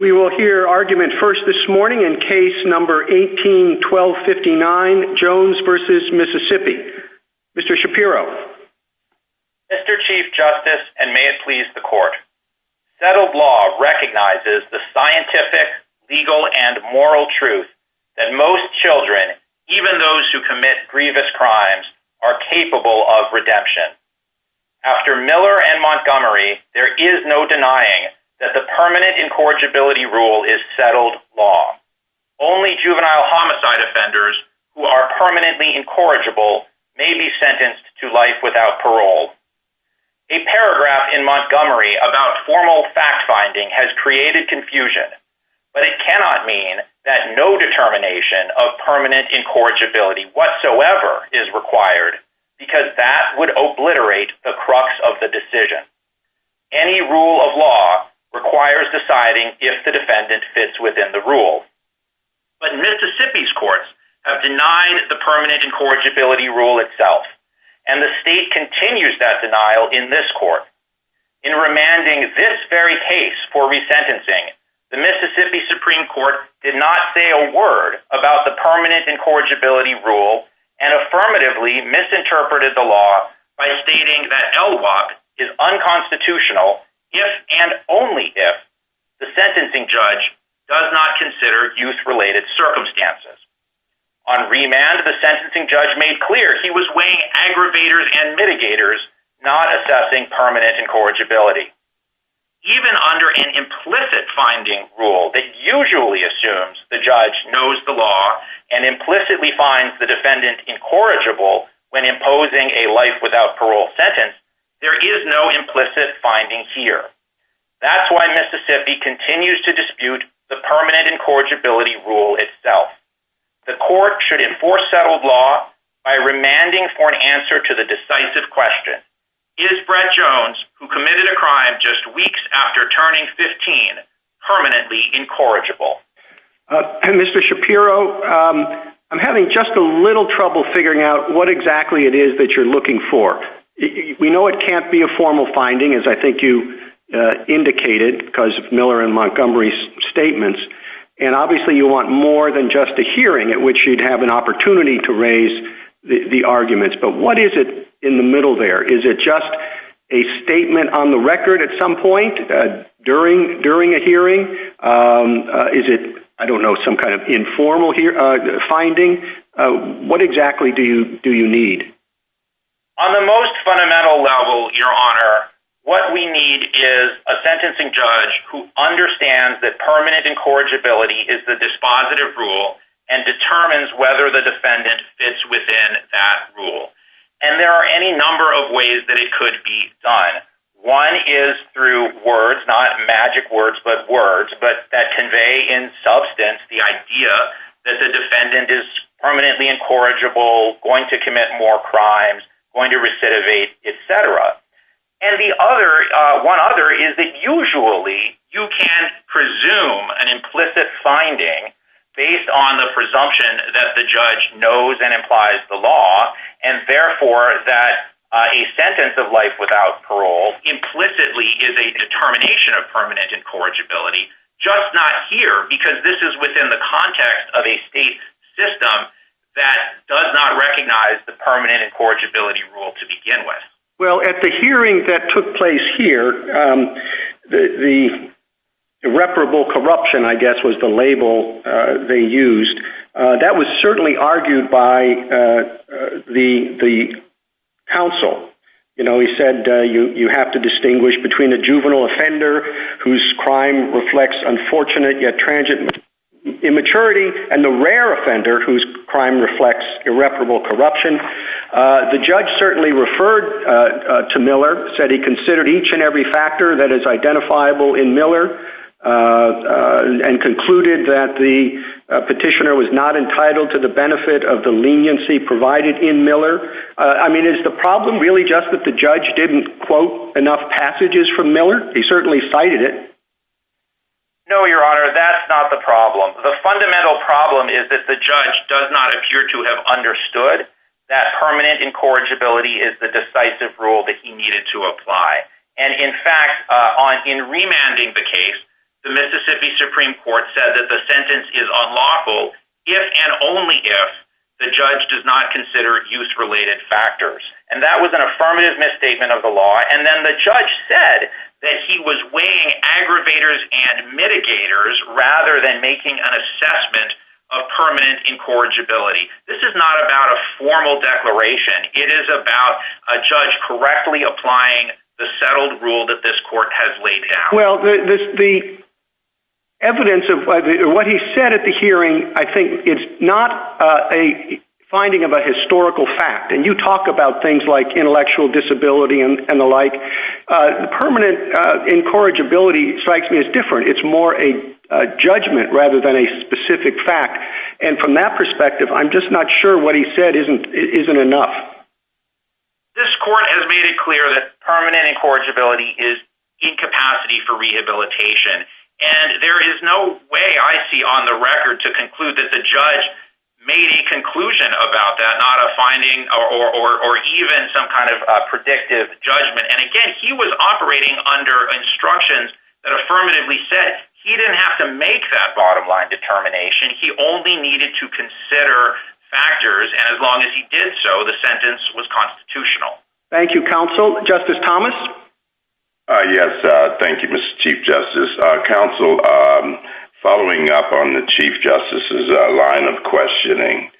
We will hear argument first this morning in case number 18 1259 Jones versus Mississippi, Mr. Shapiro, Mr. Chief Justice, and may it please the court that a law recognizes the scientific legal and moral truth that most children, even those who commit grievous crimes are capable of redemption. After Miller and Montgomery, there is no denying that the permanent incorrigibility rule is settled law. Only juvenile homicide offenders who are permanently incorrigible may be sentenced to life without parole. A paragraph in Montgomery about formal fact finding has created confusion, but it cannot mean that no determination of permanent incorrigibility whatsoever is required, because that would obliterate the crux of the decision. Any rule of law requires deciding if the defendant fits within the rule, but Mississippi's courts have denied the permanent incorrigibility rule itself. And the state continues that denial in this court in remanding this very case for resentencing. The Mississippi Supreme Court did not say a word about the permanent incorrigibility rule and affirmatively misinterpreted the law by stating that is unconstitutional. If and only if the sentencing judge does not consider youth related circumstances. On remand, the sentencing judge made clear he was weighing aggravators and mitigators, not assessing permanent incorrigibility. Even under an implicit finding rule that usually assumes the judge knows the law and implicitly finds the defendant incorrigible when imposing a life without parole sentence, there is no implicit finding here. That's why Mississippi continues to dispute the permanent incorrigibility rule itself. The court should enforce settled law by remanding for an answer to the decisive question. Is Brett Jones, who committed a crime just weeks after turning 15, permanently incorrigible? Mr. Shapiro, I'm having just a little trouble figuring out what exactly it is that you're looking for. We know it can't be a formal finding, as I think you indicated, because of Miller and Montgomery's statements. And obviously you want more than just a hearing at which you'd have an opportunity to raise the arguments. But what is it in the middle there? Is it just a statement on the record at some point during a hearing? Is it, I don't know, some kind of informal finding? What exactly do you need? On the most fundamental level, Your Honor, what we need is a sentencing judge who understands that permanent incorrigibility is the dispositive rule and determines whether the defendant fits within that rule. And there are any number of ways that it could be done. One is through words, not magic words, but words that convey in substance the idea that the defendant is permanently incorrigible, going to commit more crimes, going to recidivate, etc. And one other is that usually you can presume an implicit finding based on the presumption that the judge knows and implies the law, and therefore that a sentence of life without parole implicitly is a determination of permanent incorrigibility. Just not here, because this is within the context of a state system that does not recognize the permanent incorrigibility rule to begin with. Well, at the hearing that took place here, the irreparable corruption, I guess, was the label they used. That was certainly argued by the counsel. You know, he said you have to distinguish between the juvenile offender whose crime reflects unfortunate yet transient immaturity and the rare offender whose crime reflects irreparable corruption. The judge certainly referred to Miller, said he considered each and every factor that is identifiable in Miller, and concluded that the petitioner was not entitled to the benefit of the leniency provided in Miller. I mean, is the problem really just that the judge didn't quote enough passages from Miller? He certainly cited it. No, Your Honor, that's not the problem. The fundamental problem is that the judge does not appear to have understood that permanent incorrigibility is the decisive rule that he needed to apply. And, in fact, in remanding the case, the Mississippi Supreme Court said that the sentence is unlawful if and only if the judge does not consider use-related factors. And that was an affirmative misstatement of the law. And then the judge said that he was weighing aggravators and mitigators rather than making an assessment of permanent incorrigibility. This is not about a formal declaration. It is about a judge correctly applying the settled rule that this court has laid down. Well, the evidence of what he said at the hearing, I think, is not a finding of a historical fact. And you talk about things like intellectual disability and the like. Permanent incorrigibility strikes me as different. It's more a judgment rather than a specific fact. And from that perspective, I'm just not sure what he said isn't enough. This court has made it clear that permanent incorrigibility is incapacity for rehabilitation. And there is no way I see on the record to conclude that the judge made a conclusion about that, not a finding or even some kind of predictive judgment. And, again, he was operating under instructions that affirmatively said he didn't have to make that bottom-line determination. He only needed to consider factors. And as long as he did so, the sentence was constitutional. Thank you, counsel. Justice Thomas? Yes, thank you, Mr. Chief Justice. Counsel, following up on the Chief Justice's line of questioning,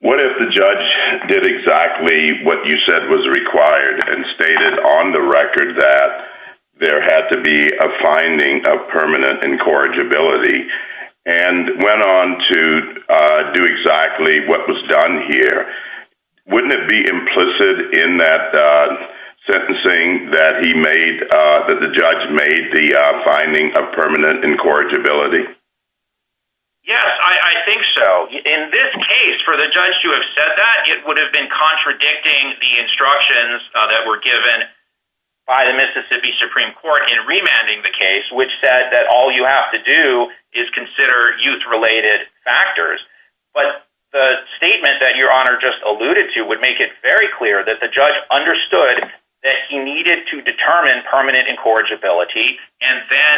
what if the judge did exactly what you said was required and stated on the record that there had to be a finding of permanent incorrigibility? And went on to do exactly what was done here. Wouldn't it be implicit in that sentencing that the judge made the finding of permanent incorrigibility? Yes, I think so. In this case, for the judge to have said that, it would have been contradicting the instructions that were given by the Mississippi Supreme Court in remanding the case, which said that all you have to do is consider youth-related factors. But the statement that Your Honor just alluded to would make it very clear that the judge understood that he needed to determine permanent incorrigibility, and then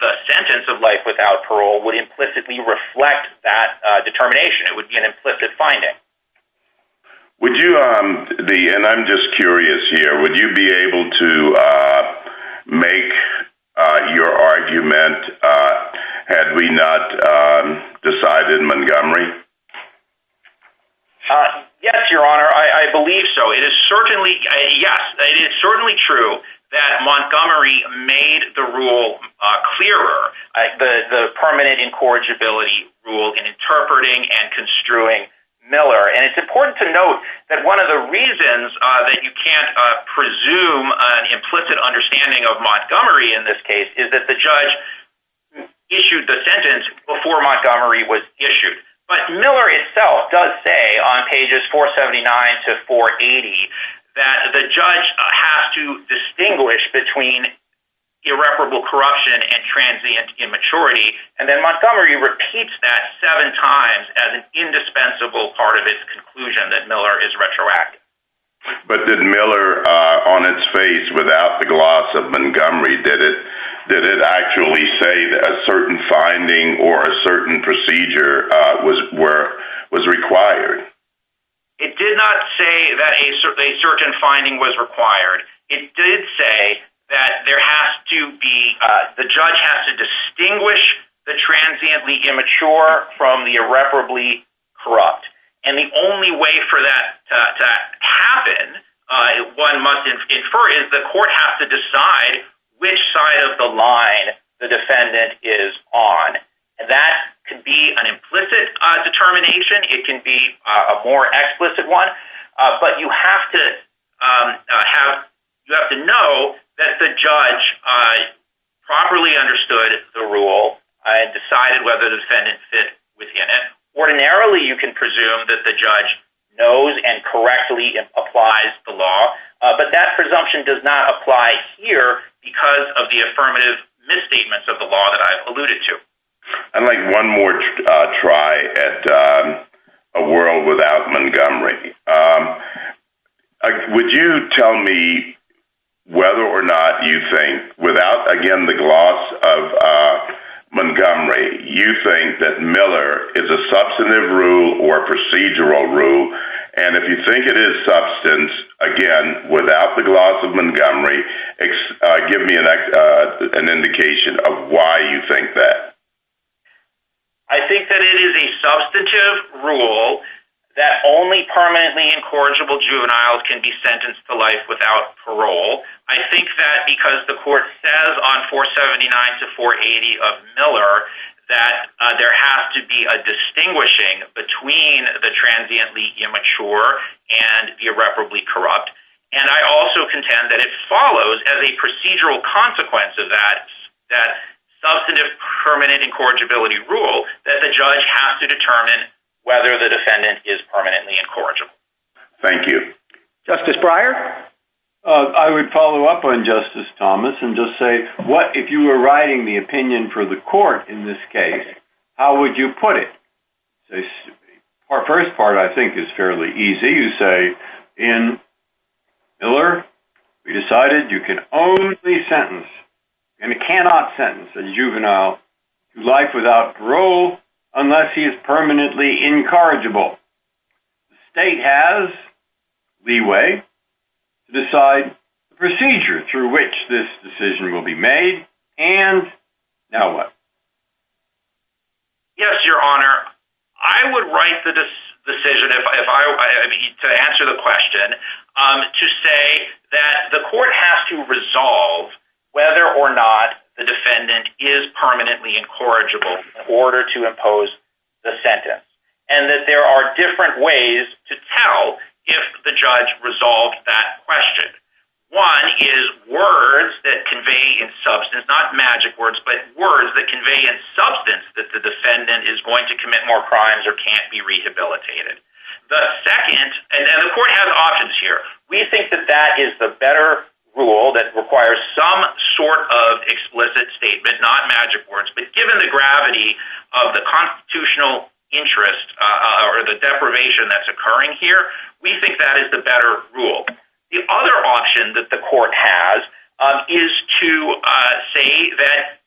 the sentence of life without parole would implicitly reflect that determination. It would be an implicit finding. Would you be, and I'm just curious here, would you be able to make your argument had we not decided Montgomery? Yes, Your Honor, I believe so. It is certainly, yes, it is certainly true that Montgomery made the rule clearer, the permanent incorrigibility rule in interpreting and construing Miller. And it's important to note that one of the reasons that you can't presume an implicit understanding of Montgomery in this case is that the judge issued the sentence before Montgomery was issued. But Miller itself does say on pages 479 to 480 that the judge has to distinguish between irreparable corruption and transient immaturity. And then Montgomery repeats that seven times as an indispensable part of its conclusion that Miller is retroactive. But did Miller, on its face, without the gloss of Montgomery, did it actually say that a certain finding or a certain procedure was required? It did not say that a certain finding was required. It did say that there has to be, the judge has to distinguish the transiently immature from the irreparably corrupt. And the only way for that to happen, one must infer, is the court has to decide which side of the line the defendant is on. That can be an implicit determination. It can be a more explicit one. But you have to know that the judge properly understood the rule and decided whether the sentence fits within it. Ordinarily, you can presume that the judge knows and correctly applies the law. But that presumption does not apply here because of the affirmative misstatements of the law that I've alluded to. I'd like one more try at a world without Montgomery. Would you tell me whether or not you think, without, again, the gloss of Montgomery, you think that Miller is a substantive rule or a procedural rule? And if you think it is substance, again, without the gloss of Montgomery, give me an indication of why you think that. I think that it is a substantive rule that only permanently incorrigible juveniles can be sentenced to life without parole. I think that because the court says on 479 to 480 of Miller that there has to be a distinguishing between the transiently immature and irreparably corrupt. And I also contend that it follows as a procedural consequence of that substantive permanent incorrigibility rule that the judge has to determine whether the defendant is permanently incorrigible. Thank you. Justice Breyer? I would follow up on Justice Thomas and just say, if you were writing the opinion for the court in this case, how would you put it? The first part, I think, is fairly easy to say. In Miller, we decided you can only sentence and cannot sentence a juvenile to life without parole unless he is permanently incorrigible. The state has leeway to decide the procedure through which this decision will be made. And now what? Yes, Your Honor. I would write the decision to answer the question to say that the court has to resolve whether or not the defendant is permanently incorrigible in order to impose the sentence. And that there are different ways to tell if the judge resolved that question. One is words that convey in substance, not magic words, but words that convey in substance that the defendant is going to commit more crimes or can't be rehabilitated. The second, and the court has options here, we think that that is the better rule that requires some sort of explicit statement, not magic words. But given the gravity of the constitutional interest or the deprivation that's occurring here, we think that is the better rule. The other option that the court has is to say that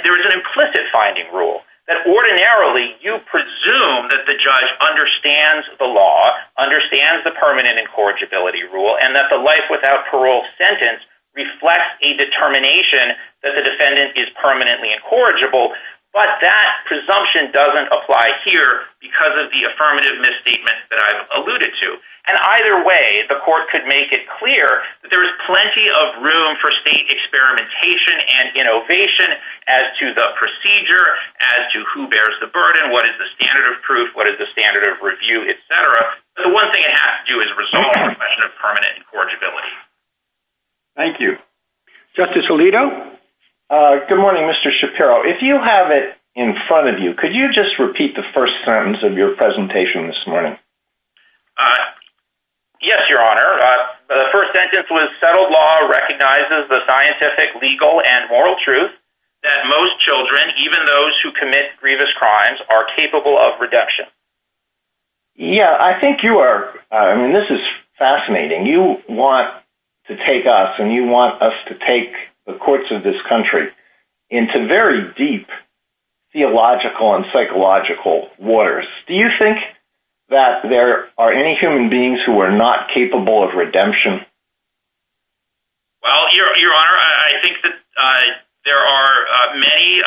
there is an implicit finding rule. That ordinarily, you presume that the judge understands the law, understands the permanent incorrigibility rule, and that the life without parole sentence reflects a determination that the defendant is permanently incorrigible. But that presumption doesn't apply here because of the affirmative misstatement that I've alluded to. And either way, the court could make it clear that there is plenty of room for state experimentation and innovation as to the procedure, as to who bears the burden, what is the standard of proof, what is the standard of review, etc. But the one thing it has to do is resolve the question of permanent incorrigibility. Thank you. Justice Alito? Good morning, Mr. Shapiro. If you have it in front of you, could you just repeat the first sentence of your presentation this morning? Yes, Your Honor. The first sentence was, Settled law recognizes the scientific, legal, and moral truth that most children, even those who commit grievous crimes, are capable of redemption. Yeah, I think you are. I mean, this is fascinating. You want to take us and you want us to take the courts of this country into very deep theological and psychological waters. Do you think that there are any human beings who are not capable of redemption? Well, Your Honor, I think that there are many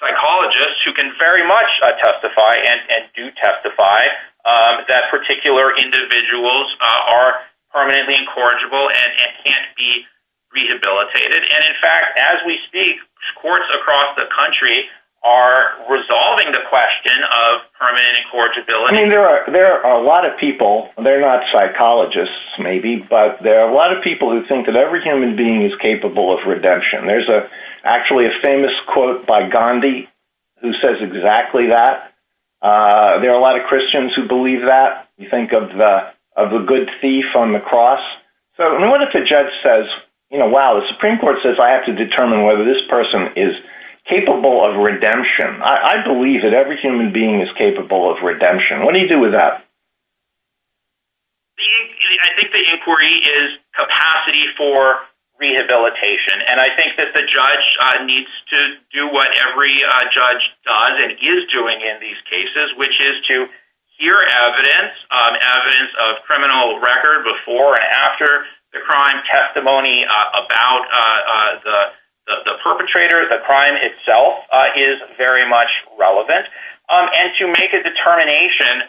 psychologists who can very much testify and do testify that particular individuals are permanently incorrigible and can't be rehabilitated. And in fact, as we speak, courts across the country are resolving the question of permanent incorrigibility. I mean, there are a lot of people. They're not psychologists, maybe, but there are a lot of people who think that every human being is capable of redemption. There's actually a famous quote by Gandhi who says exactly that. There are a lot of Christians who believe that. You think of a good thief on the cross. So what if the judge says, you know, wow, the Supreme Court says I have to determine whether this person is capable of redemption. I believe that every human being is capable of redemption. What do you do with that? I think the inquiry is capacity for rehabilitation, and I think that the judge needs to do what every judge does and is doing in these cases, which is to hear evidence, evidence of criminal record before and after the crime, testimony about the perpetrator, the crime itself is very much relevant, and to make a determination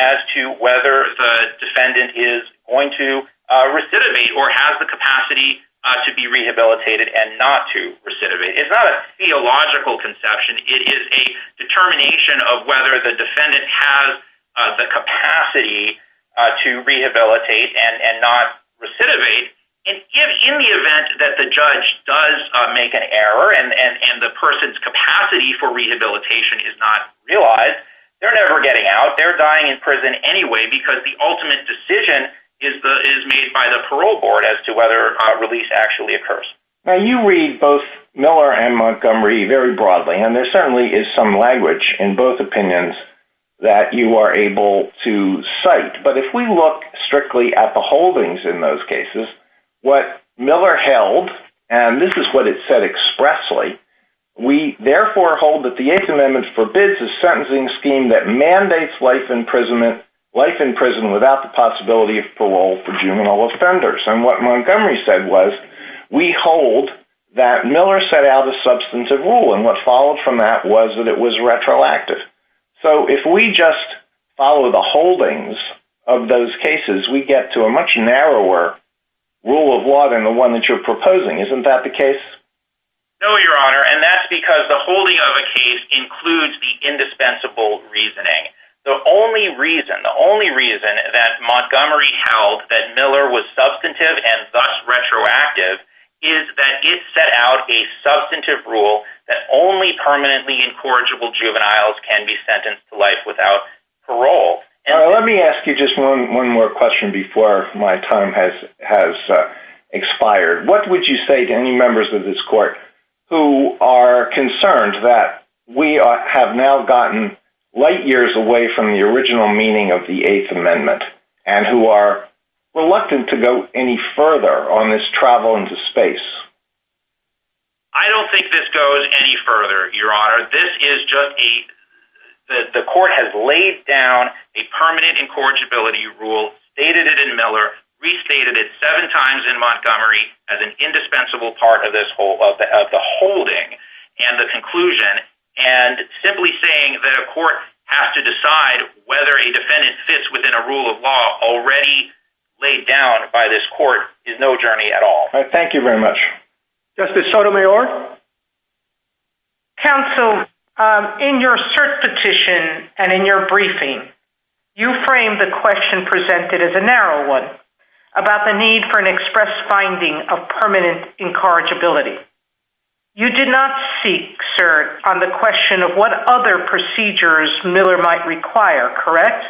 as to whether the defendant is going to recidivate or has the capacity to be rehabilitated and not to recidivate. It's not a theological conception. It is a determination of whether the defendant has the capacity to rehabilitate and not recidivate, and in the event that the judge does make an error and the person's capacity for rehabilitation is not realized, they're never getting out. They're dying in prison anyway because the ultimate decision is made by the parole board as to whether a release actually occurs. Now, you read both Miller and Montgomery very broadly, and there certainly is some language in both opinions that you are able to cite, but if we look strictly at the holdings in those cases, what Miller held, and this is what it said expressly, we therefore hold that the Eighth Amendment forbids a sentencing scheme that mandates life in prison without the possibility of parole for juvenile offenders, and what Montgomery said was we hold that Miller set out a substantive rule, and what followed from that was that it was retroactive. So if we just follow the holdings of those cases, we get to a much narrower rule of law than the one that you're proposing. Isn't that the case? No, Your Honor, and that's because the holding of the case includes the indispensable reasoning. The only reason, the only reason that Montgomery held that Miller was substantive and thus retroactive is that it set out a substantive rule that only permanently incorrigible juveniles can be sentenced to life without parole. Now, let me ask you just one more question before my time has expired. What would you say to any members of this court who are concerned that we have now gotten light years away from the original meaning of the Eighth Amendment and who are reluctant to go any further on this travel into space? I don't think this goes any further, Your Honor. This is just a, the court has laid down a permanent incorrigibility rule, stated it in Miller, restated it seven times in Montgomery as an indispensable part of this whole, of the holding and the conclusion, and simply saying that a court has to decide whether a defendant fits within a rule of law already laid down by this court is no journey at all. Thank you very much. Justice Sotomayor? Counsel, in your cert petition and in your briefing, you framed the question presented as a narrow one about the need for an express finding of permanent incorrigibility. You did not seek, sir, on the question of what other procedures Miller might require, correct?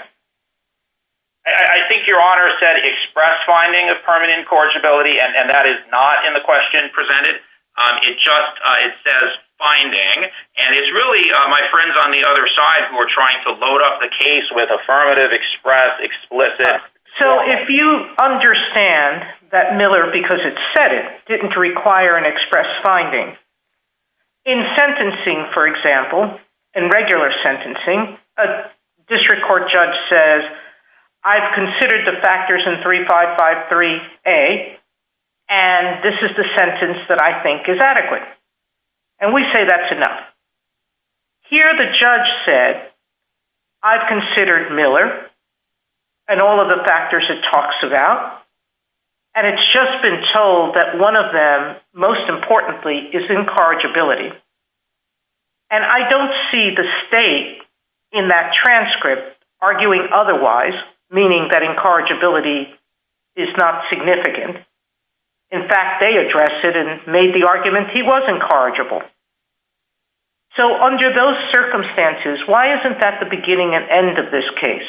I think Your Honor said express finding of permanent incorrigibility, and that is not in the question presented. It just, it says finding, and it's really my friends on the other side who are trying to load up the case with affirmative, express, explicit. So if you understand that Miller, because it said it, didn't require an express finding, in sentencing, for example, in regular sentencing, a district court judge says, I've considered the factors in 3553A, and this is the sentence that I think is adequate. And we say that's enough. Here the judge said, I've considered Miller and all of the factors it talks about, and it's just been told that one of them, most importantly, is incorrigibility. And I don't see the state in that transcript arguing otherwise, meaning that incorrigibility is not significant. In fact, they addressed it and made the argument he was incorrigible. So under those circumstances, why isn't that the beginning and end of this case,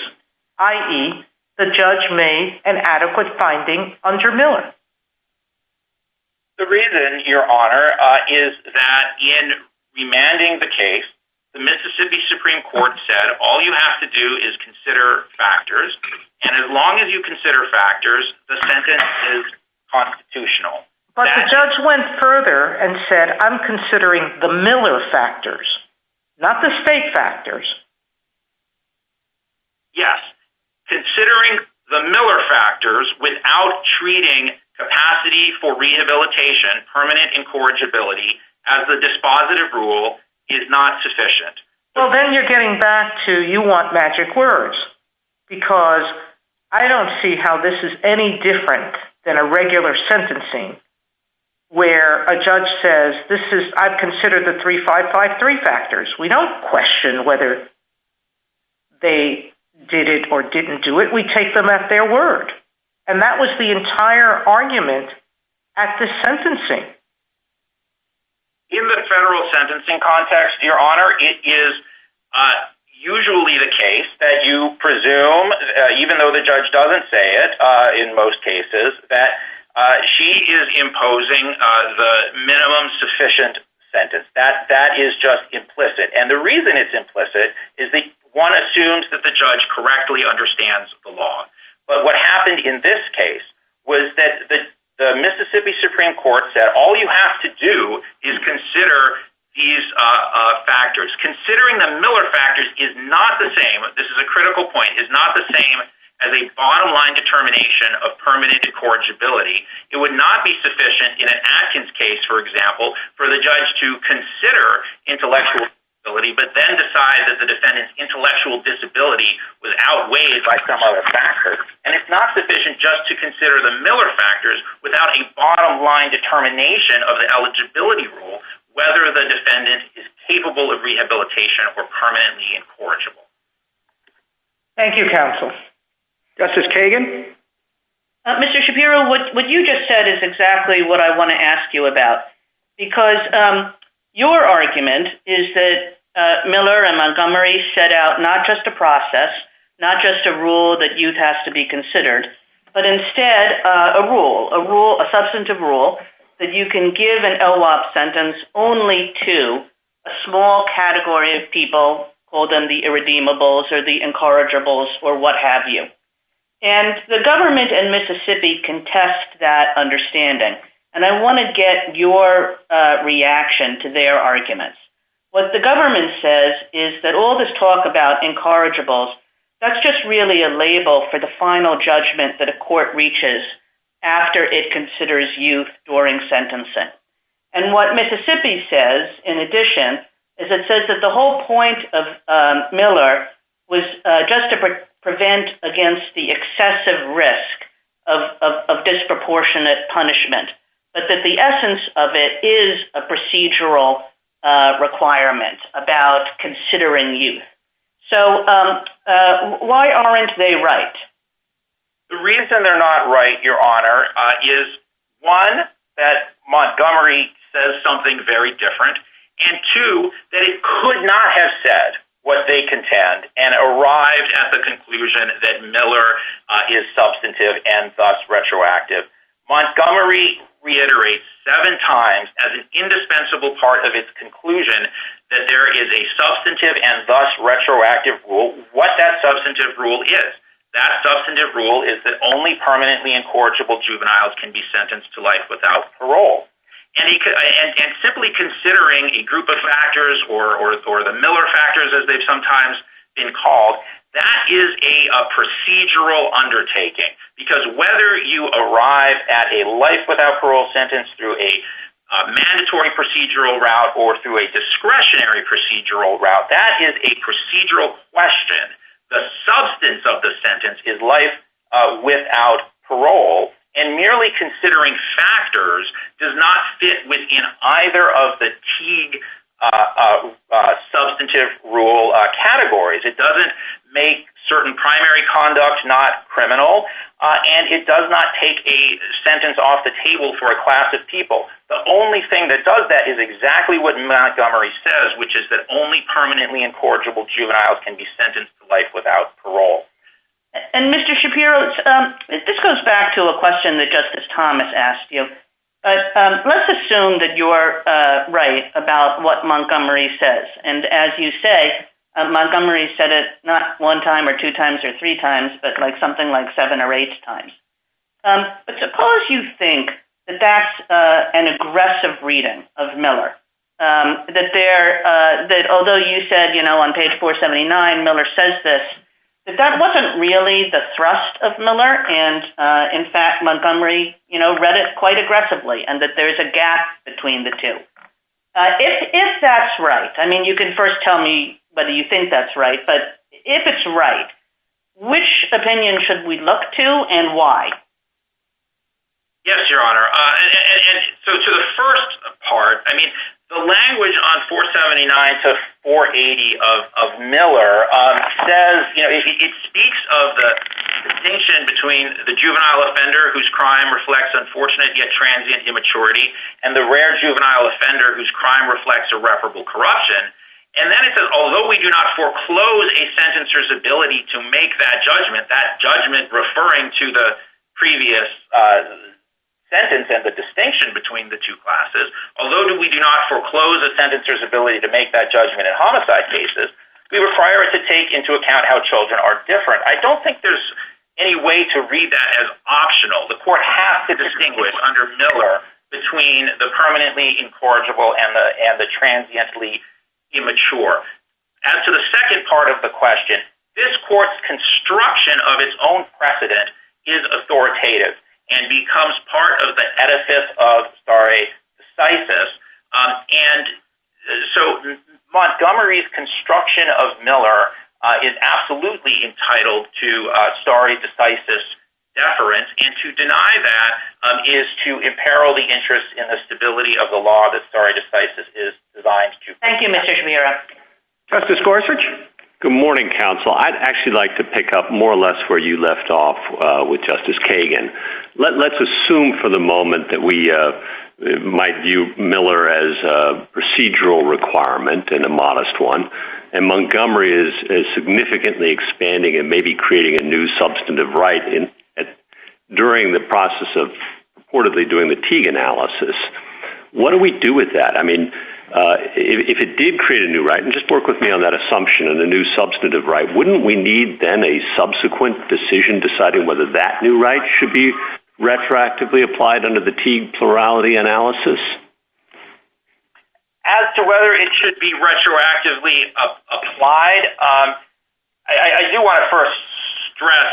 i.e., the judge made an adequate finding under Miller? The reason, Your Honor, is that in demanding the case, the Mississippi Supreme Court said, all you have to do is consider factors, and as long as you consider factors, the sentence is constitutional. But the judge went further and said, I'm considering the Miller factors, not the state factors. Yes. Considering the Miller factors without treating capacity for rehabilitation, permanent incorrigibility, as a dispositive rule, is not sufficient. Well, then you're getting back to, you want magic words. Because I don't see how this is any different than a regular sentencing where a judge says, I've considered the 3553 factors. We don't question whether they did it or didn't do it. We take them at their word. And that was the entire argument at the sentencing. In the federal sentencing context, Your Honor, it is usually the case that you presume, even though the judge doesn't say it in most cases, that she is imposing the minimum sufficient sentence. That is just implicit. And the reason it's implicit is that one assumes that the judge correctly understands the law. But what happened in this case was that the Mississippi Supreme Court said, all you have to do is consider these factors. Considering the Miller factors is not the same, this is a critical point, is not the same as a bottom line determination of permanent incorrigibility. It would not be sufficient in an Atkins case, for example, for the judge to consider intellectual disability, but then decide that the defendant's intellectual disability was outweighed by some other factors. And it's not sufficient just to consider the Miller factors without a bottom line determination of the eligibility rule, whether the defendant is capable of rehabilitation or permanently incorrigible. Thank you, counsel. Justice Kagan? Mr. Shapiro, what you just said is exactly what I want to ask you about. Because your argument is that Miller and Montgomery set out not just a process, not just a rule that has to be considered, but instead a rule, a rule, a substantive rule that you can give an LWOP sentence only to a small category of people, call them the irredeemables or the incorrigibles or what have you. And the government and Mississippi contest that understanding, and I want to get your reaction to their arguments. What the government says is that all this talk about incorrigibles, that's just really a label for the final judgment that a court reaches after it considers youth during sentencing. And what Mississippi says, in addition, is it says that the whole point of Miller was just to prevent against the excessive risk of disproportionate punishment, but that the essence of it is a procedural requirement about considering youth. So why aren't they right? The reason they're not right, Your Honor, is one, that Montgomery says something very different, and two, that it could not have said what they contend and arrived at the conclusion that Miller is substantive and thus retroactive. Montgomery reiterates seven times as an indispensable part of its conclusion that there is a substantive and thus retroactive rule. So what that substantive rule is, that substantive rule is that only permanently incorrigible juveniles can be sentenced to life without parole. And simply considering a group of factors or the Miller factors as they've sometimes been called, that is a procedural undertaking. Because whether you arrive at a life without parole sentence through a mandatory procedural route or through a discretionary procedural route, that is a procedural question. The substance of the sentence is life without parole. And merely considering factors does not fit within either of the Teague substantive rule categories. It doesn't make certain primary conduct not criminal, and it does not take a sentence off the table for a class of people. The only thing that does that is exactly what Montgomery says, which is that only permanently incorrigible juveniles can be sentenced to life without parole. And Mr. Shapiro, this goes back to a question that Justice Thomas asked you. But let's assume that you are right about what Montgomery says. And as you say, Montgomery said it not one time or two times or three times, but something like seven or eight times. But suppose you think that that's an aggressive reading of Miller, that although you said, you know, on page 479, Miller says this, that that wasn't really the thrust of Miller. And in fact, Montgomery, you know, read it quite aggressively and that there's a gap between the two. If that's right, I mean, you can first tell me whether you think that's right, but if it's right, which opinion should we look to and why? Yes, Your Honor. And so to the first part, I mean, the language on 479 to 480 of Miller says, you know, it speaks of the distinction between the juvenile offender whose crime reflects unfortunate yet transient immaturity and the rare juvenile offender whose crime reflects irreparable corruption. And then it says, although we do not foreclose a sentencer's ability to make that judgment, that judgment referring to the previous sentence and the distinction between the two classes, although we do not foreclose a sentencer's ability to make that judgment in homicide cases, we require to take into account how children are different. I don't think there's any way to read that as optional. The court has to distinguish under Miller between the permanently incorrigible and the transiently immature. As to the second part of the question, this court's construction of its own precedent is authoritative and becomes part of the edifice of stare decisis. And so Montgomery's construction of Miller is absolutely entitled to stare decisis deference, and to deny that is to imperil the interest in the stability of the law that stare decisis is designed to. Thank you, Mr. Schmira. Justice Gorsuch? Good morning, counsel. I'd actually like to pick up more or less where you left off with Justice Kagan. Let's assume for the moment that we might view Miller as a procedural requirement and a modest one, and Montgomery is significantly expanding and maybe creating a new substantive right during the process of reportedly doing the Teague analysis. What do we do with that? I mean, if it did create a new right, and just work with me on that assumption of the new substantive right, wouldn't we need then a subsequent decision deciding whether that new right should be retroactively applied under the Teague plurality analysis? As to whether it should be retroactively applied, I do want to first stress,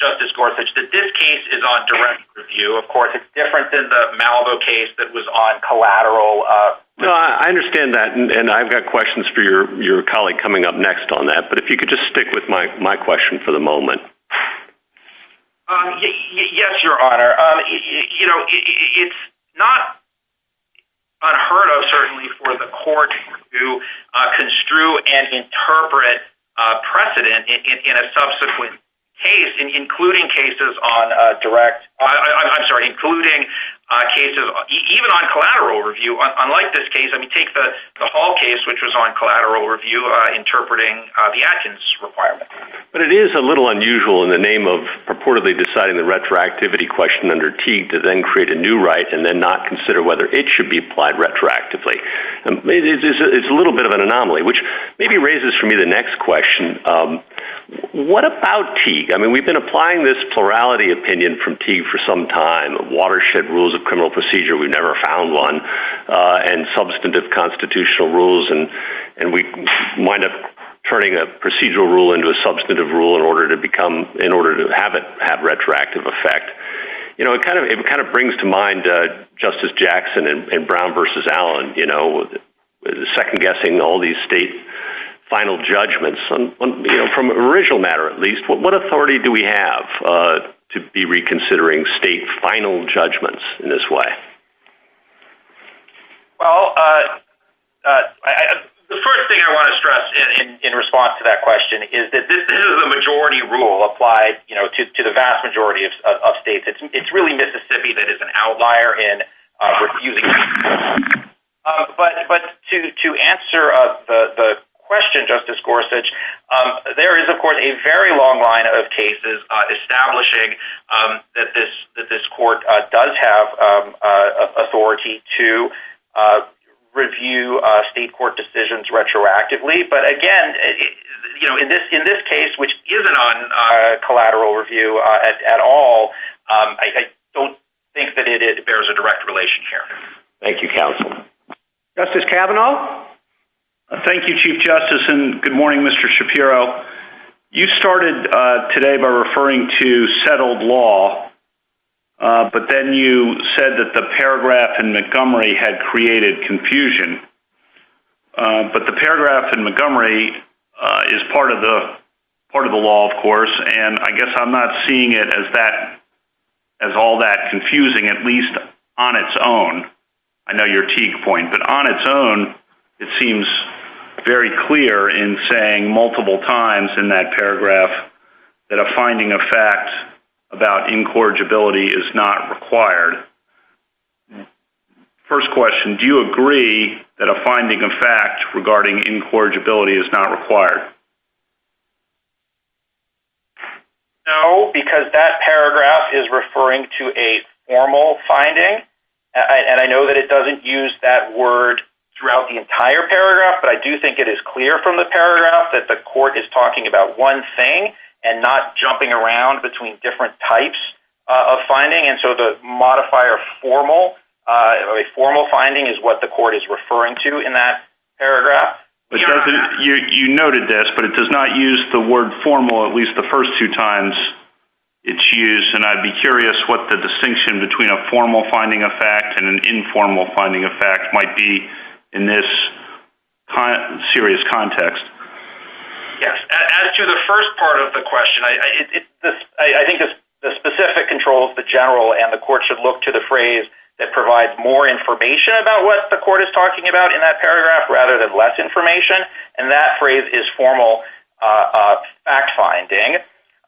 Justice Gorsuch, that this case is on direct review. Of course, it's different than the Malibu case that was on collateral. I understand that, and I've got questions for your colleague coming up next on that, but if you could just stick with my question for the moment. Yes, Your Honor. It's not unheard of, certainly, for the court to construe and interpret precedent in a subsequent case, including cases on direct – I'm sorry, including cases even on collateral review. Unlike this case, I mean, take the Hall case, which was on collateral review, interpreting the Atkins requirement. But it is a little unusual in the name of purportedly deciding the retroactivity question under Teague to then create a new right and then not consider whether it should be applied retroactively. It's a little bit of an anomaly, which maybe raises for me the next question. What about Teague? I mean, we've been applying this plurality opinion from Teague for some time, watershed rules of criminal procedure – we've never found one – and substantive constitutional rules, and we wind up turning a procedural rule into a substantive rule in order to have retroactive effect. It kind of brings to mind Justice Jackson and Brown v. Allen, second-guessing all these state final judgments. From an original matter, at least, what authority do we have to be reconsidering state final judgments in this way? Well, the first thing I want to stress in response to that question is that this is a majority rule applied to the vast majority of states. It's really Mississippi that is an outlier in reviewing this. But to answer the question, Justice Gorsuch, there is, of course, a very long line of cases establishing that this court does have authority to review state court decisions retroactively. But again, in this case, which isn't on collateral review at all, I don't think that it bears a direct relationship. Thank you, counsel. Justice Kavanaugh? Thank you, Chief Justice, and good morning, Mr. Shapiro. You started today by referring to settled law, but then you said that the paragraph in Montgomery had created confusion. But the paragraph in Montgomery is part of the law, of course, and I guess I'm not seeing it as all that confusing, at least on its own. I know you're a teak point, but on its own, it seems very clear in saying multiple times in that paragraph that a finding of facts about incorrigibility is not required. First question, do you agree that a finding of facts regarding incorrigibility is not required? No, because that paragraph is referring to a formal finding, and I know that it doesn't use that word throughout the entire paragraph, but I do think it is clear from the paragraph that the court is talking about one thing and not jumping around between different types of finding. And so the modifier formal, a formal finding, is what the court is referring to in that paragraph. You noted this, but it does not use the word formal at least the first two times it's used, and I'd be curious what the distinction between a formal finding of fact and an informal finding of fact might be in this serious context. As to the first part of the question, I think the specific control of the general and the court should look to the phrase that provides more information about what the court is talking about in that paragraph rather than less information, and that phrase is formal fact finding.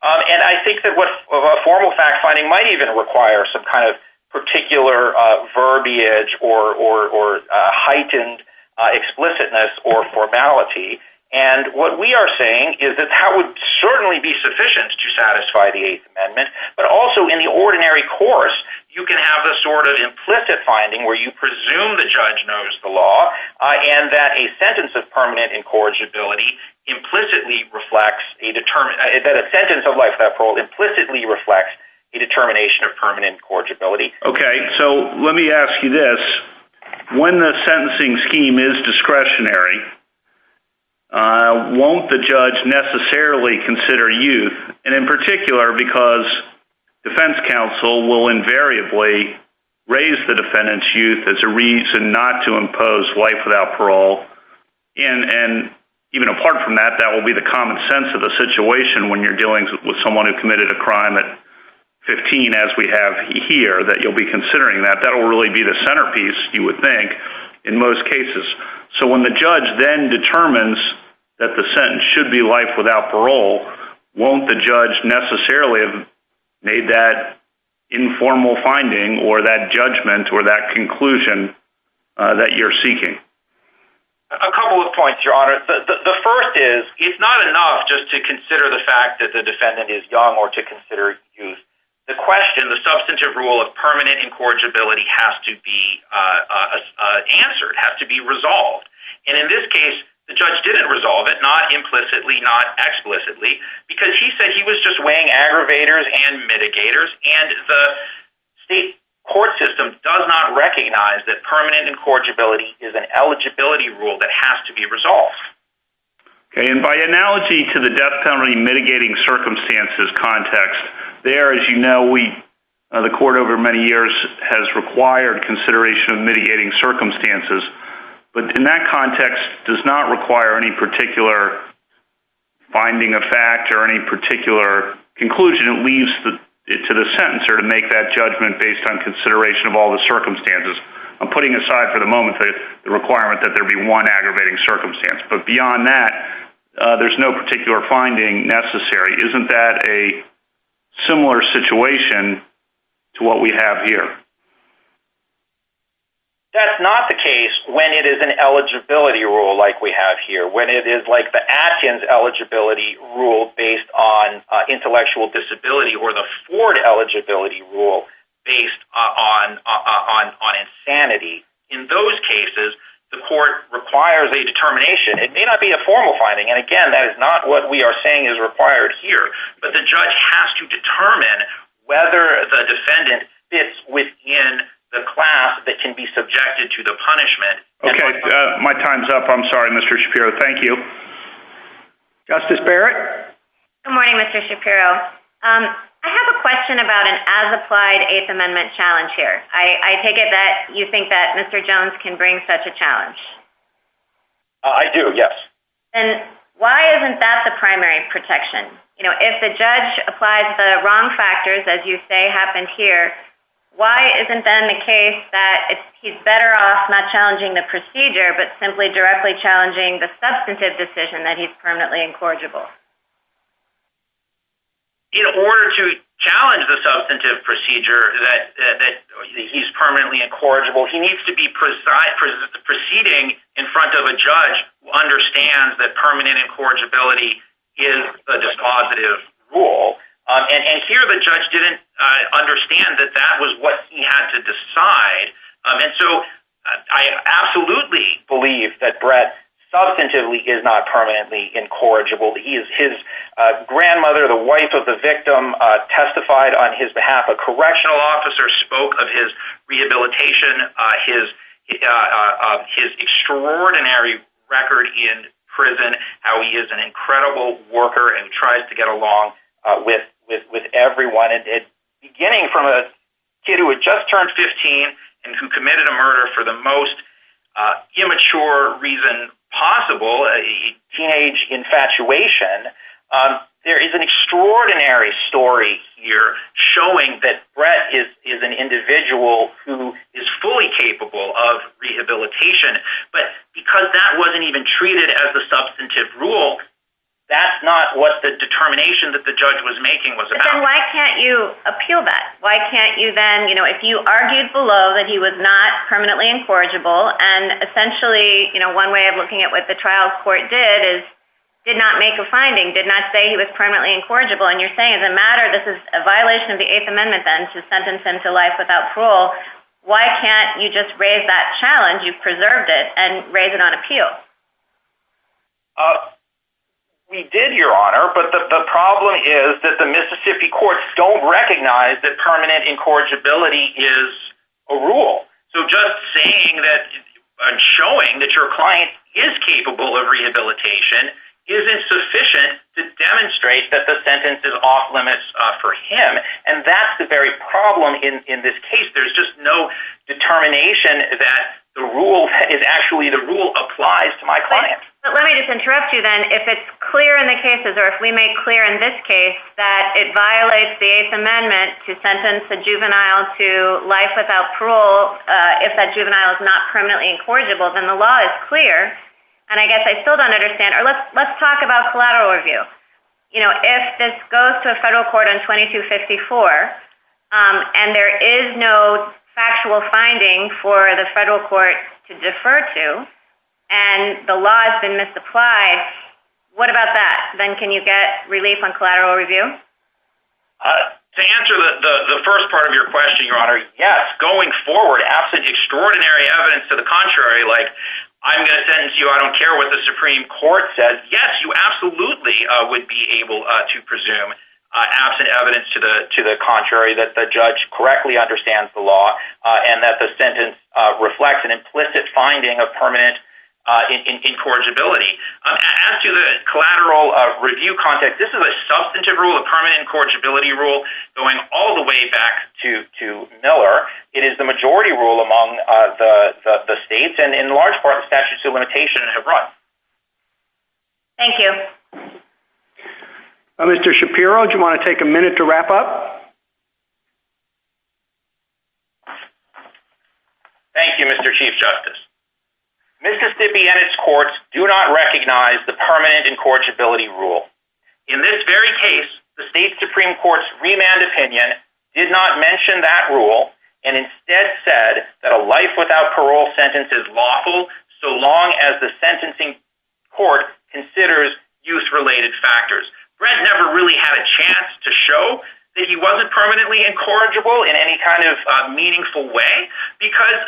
And I think that a formal fact finding might even require some kind of particular verbiage or heightened explicitness or formality, and what we are saying is that that would certainly be sufficient to satisfy the Eighth Amendment, but also in the ordinary course you can have a sort of implicit finding where you presume the judge knows the law and that a sentence of life uphold implicitly reflects a determination of permanent incorrigibility. Okay, so let me ask you this. When the sentencing scheme is discretionary, won't the judge necessarily consider youth, and in particular because defense counsel will invariably raise the defendant's youth as a reason not to impose life without parole, and even apart from that, that will be the common sense of the situation when you're dealing with someone who committed a crime at 15, as we have here, that you'll be considering that. That will really be the centerpiece, you would think, in most cases. So when the judge then determines that the sentence should be life without parole, won't the judge necessarily have made that informal finding or that judgment or that conclusion that you're seeking? A couple of points, Your Honor. The first is it's not enough just to consider the fact that the defendant is young or to consider youth. The question, the substantive rule of permanent incorrigibility has to be answered, has to be resolved. And in this case, the judge didn't resolve it, not implicitly, not explicitly, because he said he was just weighing aggravators and mitigators, and the state court system does not recognize that permanent incorrigibility is an eligibility rule that has to be resolved. And by analogy to the death penalty mitigating circumstances context, there, as you know, the court over many years has required consideration of mitigating circumstances, but in that context does not require any particular finding of fact or any particular conclusion. It leaves it to the sentencer to make that judgment based on consideration of all the circumstances. I'm putting aside for the moment the requirement that there be one aggravating circumstance, but beyond that there's no particular finding necessary. Isn't that a similar situation to what we have here? That's not the case when it is an eligibility rule like we have here, when it is like the Atkins eligibility rule based on intellectual disability or the Ford eligibility rule based on insanity. In those cases, the court requires a determination. It may not be a formal finding, and again, that is not what we are saying is required here, but the judge has to determine whether the defendant fits within the class that can be subjected to the punishment. Okay, my time's up. I'm sorry, Mr. Shapiro. Thank you. Justice Barrett? Good morning, Mr. Shapiro. I have a question about an as-applied Eighth Amendment challenge here. I take it that you think that Mr. Jones can bring such a challenge? I do, yes. Then why isn't that the primary protection? If the judge applies the wrong factors, as you say happened here, why isn't then the case that he's better off not challenging the procedure but simply directly challenging the substantive decision that he's permanently incorrigible? In order to challenge the substantive procedure that he's permanently incorrigible, he needs to be proceeding in front of a judge who understands that permanent incorrigibility is a dispositive rule, and here the judge didn't understand that that was what he had to decide. I absolutely believe that Brett substantively is not permanently incorrigible. His grandmother, the wife of the victim, testified on his behalf. A correctional officer spoke of his rehabilitation, his extraordinary record in prison, how he is an incredible worker and tries to get along with everyone. Beginning from a kid who had just turned 15 and who committed a murder for the most immature reason possible, a teenage infatuation, there is an extraordinary story here showing that Brett is an individual who is fully capable of rehabilitation, but because that wasn't even treated as a substantive rule, that's not what the determination that the judge was making was about. Then why can't you appeal that? If you argued below that he was not permanently incorrigible, and essentially one way of looking at what the trial court did is did not make a finding, did not say he was permanently incorrigible, and you're saying as a matter, this is a violation of the Eighth Amendment then to sentence him to life without parole, why can't you just raise that challenge, you've preserved it, and raise it on appeal? We did, Your Honor, but the problem is that the Mississippi courts don't recognize that permanent incorrigibility is a rule. So just saying that and showing that your client is capable of rehabilitation isn't sufficient to demonstrate that the sentence is off limits for him, and that's the very problem in this case. There's just no determination that the rule applies to my client. Let me just interrupt you then. If it's clear in the cases, or if we make clear in this case, that it violates the Eighth Amendment to sentence a juvenile to life without parole if that juvenile is not permanently incorrigible, then the law is clear, and I guess I still don't understand. Let's talk about collateral review. If this goes to a federal court on 2254, and there is no factual finding for the federal court to defer to, and the law has been misapplied, what about that? Then can you get relief on collateral review? To answer the first part of your question, Your Honor, yes. Going forward, absolutely extraordinary evidence to the contrary, like I'm going to sentence you, I don't care what the Supreme Court says, but yes, you absolutely would be able to presume absent evidence to the contrary, that the judge correctly understands the law, and that the sentence reflects an implicit finding of permanent incorrigibility. To the collateral review context, this is a substantive rule, a permanent incorrigibility rule, going all the way back to Miller. It is the majority rule among the states, and in large part, the statute of limitations has run. Thank you. Mr. Shapiro, do you want to take a minute to wrap up? Thank you, Mr. Chief Justice. Mississippi and its courts do not recognize the permanent incorrigibility rule. In this very case, the state Supreme Court's remand opinion did not mention that rule, and instead said that a life without parole sentence is lawful so long as the sentencing court considers use-related factors. Brent never really had a chance to show that he wasn't permanently incorrigible in any kind of meaningful way, because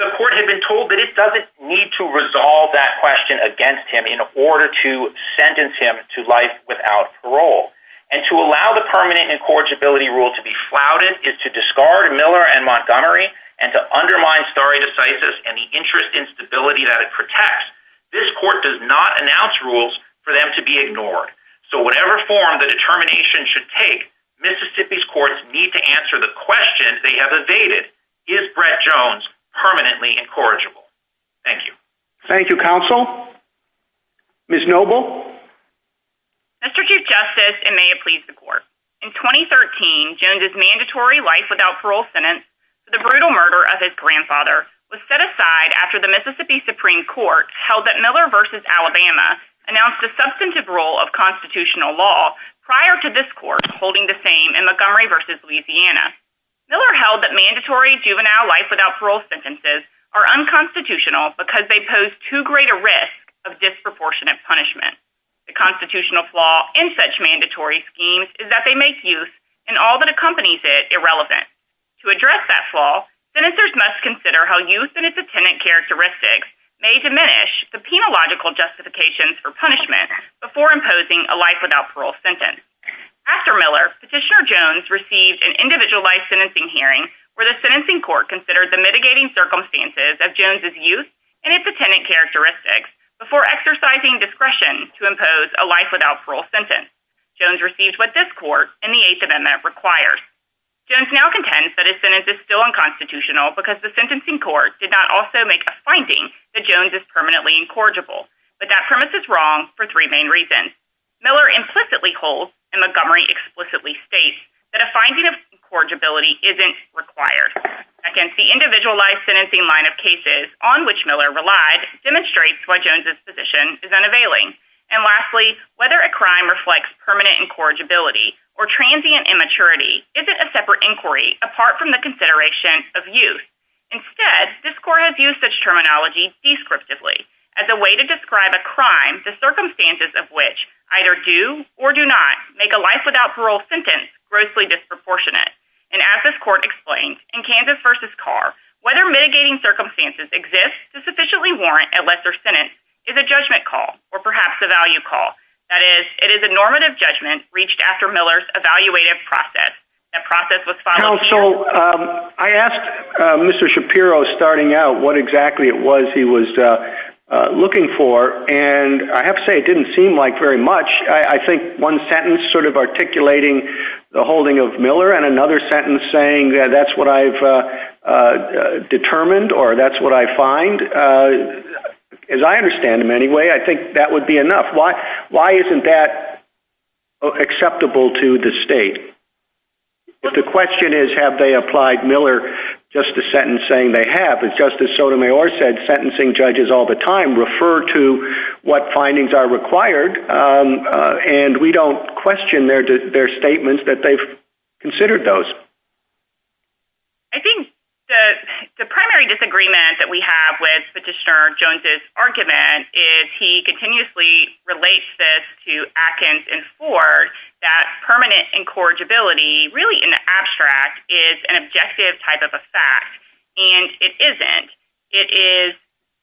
the court had been told that it doesn't need to resolve that question against him in order to sentence him to life without parole. And to allow the permanent incorrigibility rule to be flouted is to discard Miller and Montgomery, and to undermine stare decisis and the interest in stability that it protects, this court does not announce rules for them to be ignored. So whatever form the determination should take, Mississippi's courts need to answer the question they have evaded, is Brent Jones permanently incorrigible? Thank you. Thank you, counsel. Ms. Noble? Mr. Chief Justice, and may it please the court, in 2013, Jones's mandatory life without parole sentence for the brutal murder of his grandfather was set aside after the Mississippi Supreme Court held that Miller v. Alabama announced a substantive rule of constitutional law prior to this court holding the same in Montgomery v. Louisiana. Miller held that mandatory juvenile life without parole sentences are unconstitutional because they pose too great a risk of disproportionate punishment. The constitutional flaw in such mandatory schemes is that they make use in all that accompanies it irrelevant. To address that flaw, senators must consider how youth and its attendant characteristics may diminish the penological justifications for punishment before imposing a life without parole sentence. After Miller, Petitioner Jones received an individualized sentencing hearing where the sentencing court considered the mitigating circumstances of Jones's youth and its attendant characteristics before exercising discretion to impose a life without parole sentence. Jones received what this court in the Eighth Amendment requires. Jones now contends that his sentence is still unconstitutional because the sentencing court did not also make a finding that Jones is permanently incorrigible. But that premise is wrong for three main reasons. Miller implicitly holds, and Montgomery explicitly states, that a finding of incorrigibility isn't required. Second, the individualized sentencing line of cases on which Miller relied demonstrates why Jones's position is unavailing. And lastly, whether a crime reflects permanent incorrigibility or transient immaturity isn't a separate inquiry apart from the consideration of youth. Instead, this court has used such terminology descriptively as a way to describe a crime the circumstances of which either do or do not make a life without parole sentence grossly disproportionate. And as this court explained in Kansas v. Carr, whether mitigating circumstances exist to sufficiently warrant a lesser sentence is a judgment call or perhaps a value call. That is, it is a normative judgment reached after Miller's evaluated process. That process was followed- So I asked Mr. Shapiro starting out what exactly it was he was looking for, and I have to say it didn't seem like very much. I think one sentence sort of articulating the holding of Miller and another sentence saying that's what I've determined or that's what I find, as I understand them anyway, I think that would be enough. Why isn't that acceptable to the state? The question is have they applied Miller just the sentence saying they have. As Justice Sotomayor said, sentencing judges all the time refer to what findings are required, and we don't question their statements that they've considered those. I think the primary disagreement that we have with Petitioner Jones' argument is he continuously relates this to Atkins and Ford, that permanent incorrigibility really in the abstract is an objective type of a fact, and it isn't. It is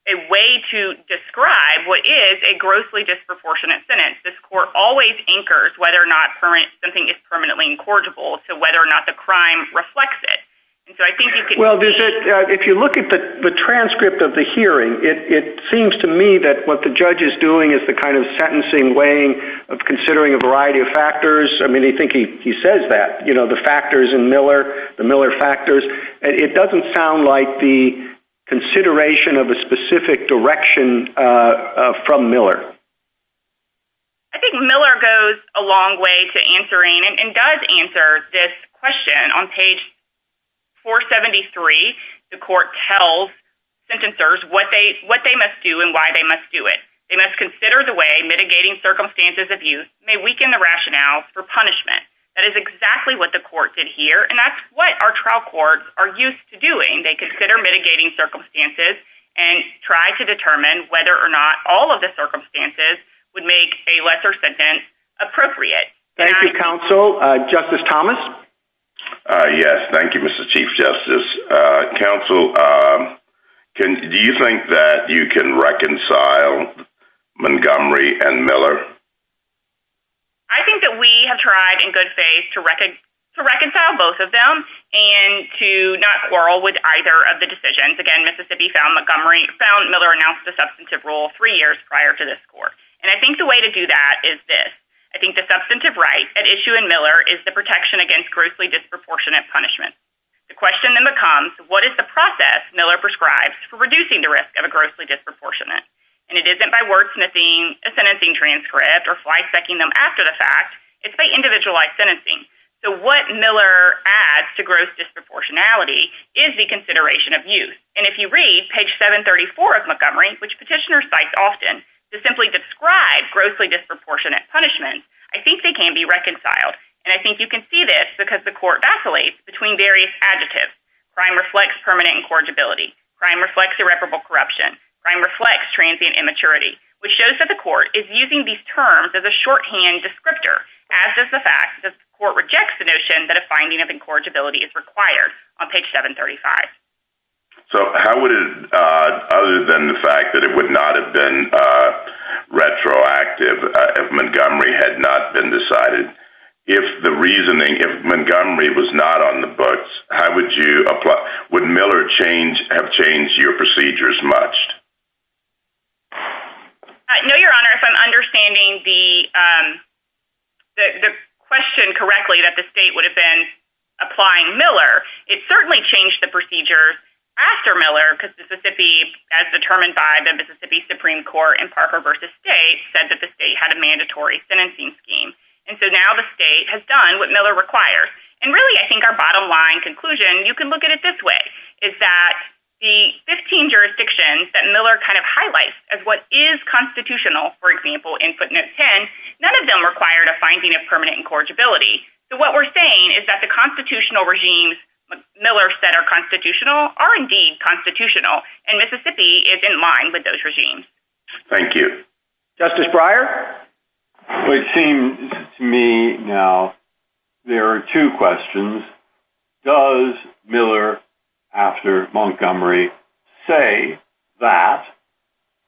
a way to describe what is a grossly disproportionate sentence. This court always anchors whether or not something is permanently incorrigible to whether or not the crime reflects it. Well, if you look at the transcript of the hearing, it seems to me that what the judge is doing is the kind of sentencing weighing of considering a variety of factors. I mean, I think he says that, you know, the factors in Miller, the Miller factors. It doesn't sound like the consideration of a specific direction from Miller. I think Miller goes a long way to answering and does answer this question on page 473. The court tells sentencers what they must do and why they must do it. They must consider the way mitigating circumstances of use may weaken the rationale for punishment. That is exactly what the court did here, and that's what our trial courts are used to doing. They consider mitigating circumstances and try to determine whether or not all of the circumstances would make a lesser sentence appropriate. Thank you, Counsel. Justice Thomas? Yes, thank you, Mr. Chief Justice. Counsel, do you think that you can reconcile Montgomery and Miller? I think that we have tried in good faith to reconcile both of them and to not quarrel with either of the decisions. Again, Mississippi found Miller announced a substantive rule three years prior to this court, and I think the way to do that is this. I think the substantive right at issue in Miller is the protection against grossly disproportionate punishment. The question then becomes, what is the process Miller prescribes for reducing the risk of a grossly disproportionate? And it isn't by wordsmithing a sentencing transcript or flagstacking them after the fact. It's by individualized sentencing. So what Miller adds to gross disproportionality is the consideration of use. And if you read page 734 of Montgomery, which petitioners cite often, to simply describe grossly disproportionate punishment, I think they can be reconciled. And I think you can see this because the court vacillates between various adjectives. Crime reflects permanent incorrigibility. Crime reflects irreparable corruption. Crime reflects transient immaturity, which shows that the court is using these terms as a shorthand descriptor, as does the fact that the court rejects the notion that a finding of incorrigibility is required on page 735. So how would it, other than the fact that it would not have been retroactive if Montgomery had not been decided, if the reasoning, if Montgomery was not on the books, would Miller have changed your procedures much? No, Your Honor. If I'm understanding the question correctly, that the state would have been applying Miller, it certainly changed the procedures after Miller because Mississippi, as determined by the Mississippi Supreme Court in Parker v. State, said that the state had a mandatory sentencing scheme. And so now the state has done what Miller requires. And really, I think our bottom-line conclusion, you can look at it this way, is that the 15 jurisdictions that Miller kind of highlights as what is constitutional, for example, in footnote 10, none of them required a finding of permanent incorrigibility. So what we're saying is that the constitutional regimes that Miller said are constitutional are indeed constitutional, and Mississippi is in line with those regimes. Thank you. Justice Breyer? It seems to me now there are two questions. One is, does Miller, after Montgomery, say that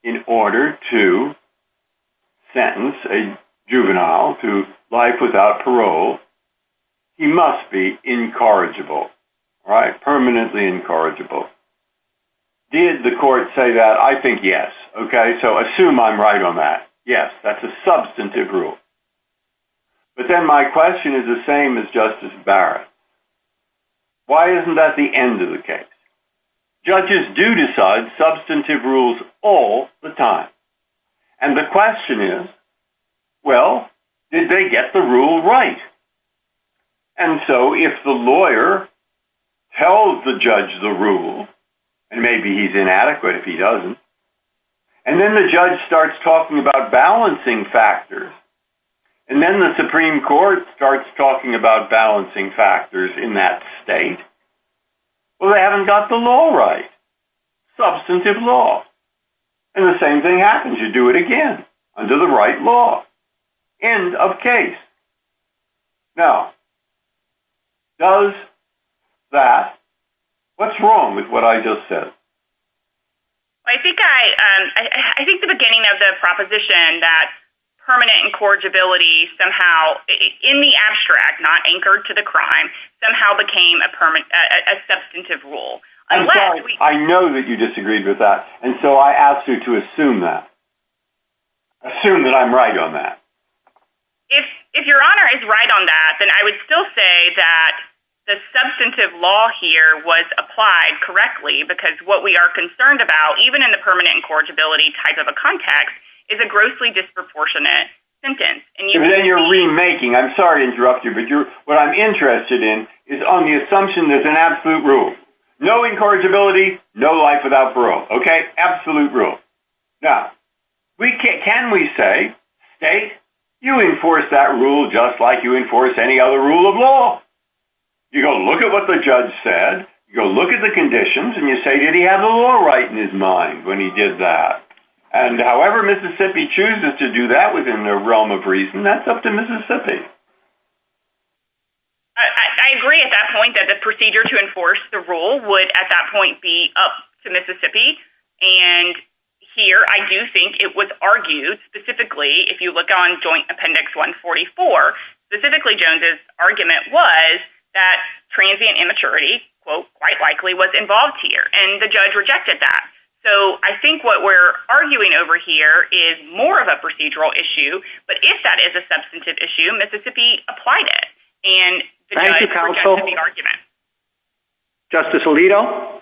in order to sentence a juvenile to life without parole, he must be incorrigible, permanently incorrigible? Did the court say that? I think yes. So assume I'm right on that. Yes, that's a substantive rule. But then my question is the same as Justice Barrett. Why isn't that the end of the case? Judges do decide substantive rules all the time. And the question is, well, did they get the rule right? And so if the lawyer tells the judge the rule, and maybe he's inadequate if he doesn't, and then the judge starts talking about balancing factors, and then the Supreme Court starts talking about balancing factors in that state, well, they haven't got the law right. Substantive law. And the same thing happens. You do it again under the right law. End of case. Now, does that, what's wrong with what I just said? I think the beginning of the proposition that permanent incorrigibility somehow, in the abstract, not anchored to the crime, somehow became a substantive rule. I know that you disagreed with that. And so I asked you to assume that. Assume that I'm right on that. If Your Honor is right on that, then I would still say that the substantive law here was applied correctly because what we are concerned about, even in the permanent incorrigibility type of a context, is a grossly disproportionate sentence. And then you're remaking. I'm sorry to interrupt you, but what I'm interested in is on the assumption that it's an absolute rule. No incorrigibility, no life without parole. Okay? Absolute rule. Now, can we say, state, you enforce that rule just like you enforce any other rule of law? You're going to look at what the judge said. You'll look at the conditions and you say, did he have the law right in his mind when he did that? And however Mississippi chooses to do that within their realm of reason, that's up to Mississippi. I agree at that point that the procedure to enforce the rule would, at that point, be up to Mississippi. And here I do think it was argued, specifically, if you look on Joint Appendix 144, specifically Jones's argument was that transient immaturity, quote, quite likely was involved here and the judge rejected that. So I think what we're arguing over here is more of a procedural issue, but if that is a substantive issue, Mississippi applied it. And the judge rejected the argument. Justice Alito?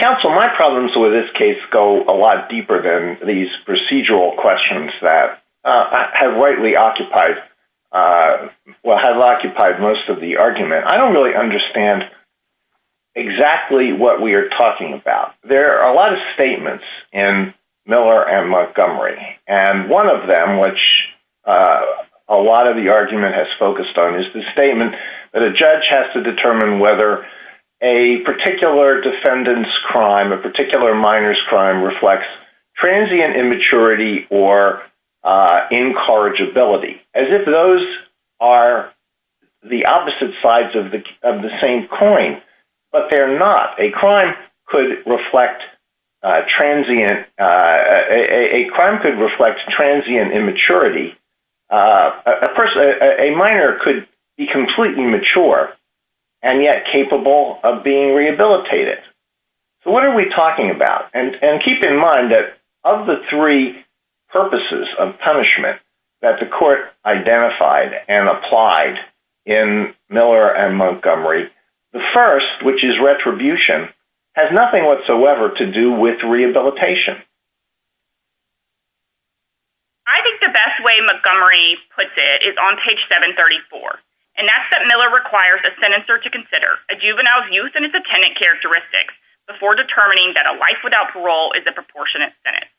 Counsel, my problems with this case go a lot deeper than these procedural questions that have rightly occupied, well have occupied most of the argument. I don't really understand exactly what we are talking about. There are a lot of statements in Miller and Montgomery. And one of them, which a lot of the argument has focused on is the statement that a judge has to determine whether a particular defendant's crime, a particular minor's crime reflects transient immaturity or incorrigibility. As if those are the opposite sides of the same coin, but they're not. A crime could reflect transient, a crime could reflect transient immaturity. A person, a minor could be completely mature and yet capable of being rehabilitated. So what are we talking about? And keep in mind that of the three purposes of punishment that the court identified and applied in Miller and Montgomery, the first, which is retribution, has nothing whatsoever to do with rehabilitation. I think the best way Montgomery puts it is on page 734. And that's that Miller requires a senator to consider a juvenile's use in a particular context before determining that a life without parole is a proportionate sentence.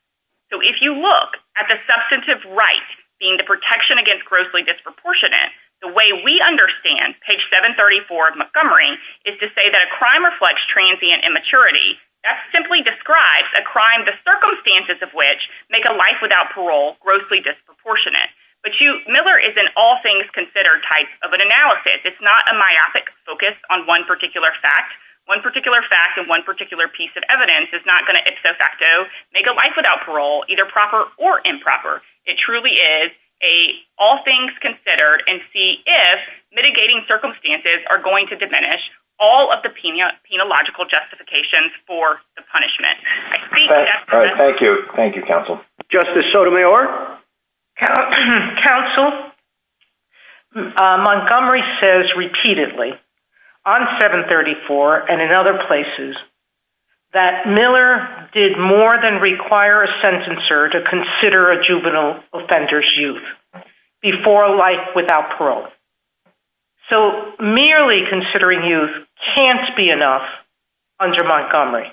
So if you look at the substantive rights, being the protection against grossly disproportionate, the way we understand page 734 of Montgomery is to say that a crime reflects transient immaturity. That's simply describes a crime, the circumstances of which make a life without parole, grossly disproportionate. But Miller is an all things considered type of an analysis. It's not a myopic focus on one particular fact, one particular fact and one particular piece of evidence is not going to make a life without parole, either proper or improper. It truly is a, all things considered and see if mitigating circumstances are going to diminish all of the penal, penal logical justifications for the punishment. Thank you. Thank you counsel. Justice. So do we or counsel Montgomery says repeatedly on seven 34 and in other places that Miller did more than require a sentence or to consider a juvenile offenders youth before life without parole. So merely considering youth can't be enough under Montgomery.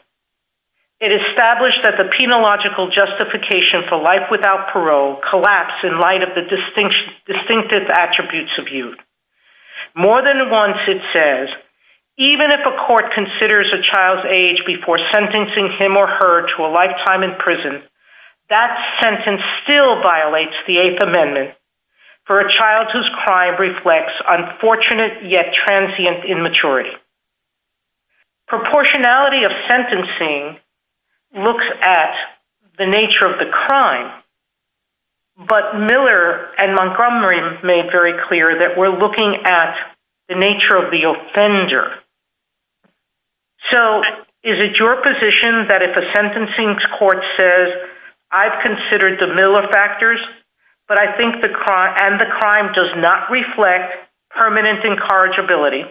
It established that the penal logical justification for life without parole collapse in light of the distinction distinctive attributes of youth more than once. It says, even if a court considers a child's age before sentencing him or her to a lifetime in prison, that sentence still violates the eighth amendment for a child whose crime reflects unfortunate yet transient in maturity. Proportionality of sentencing looks at the nature of the crime, but Miller and Montgomery made very clear that we're looking at the nature of the offender. So is it your position that if a sentencing court says I've considered the Miller factors, but I think the crime and the crime does not reflect permanent incorrigibility,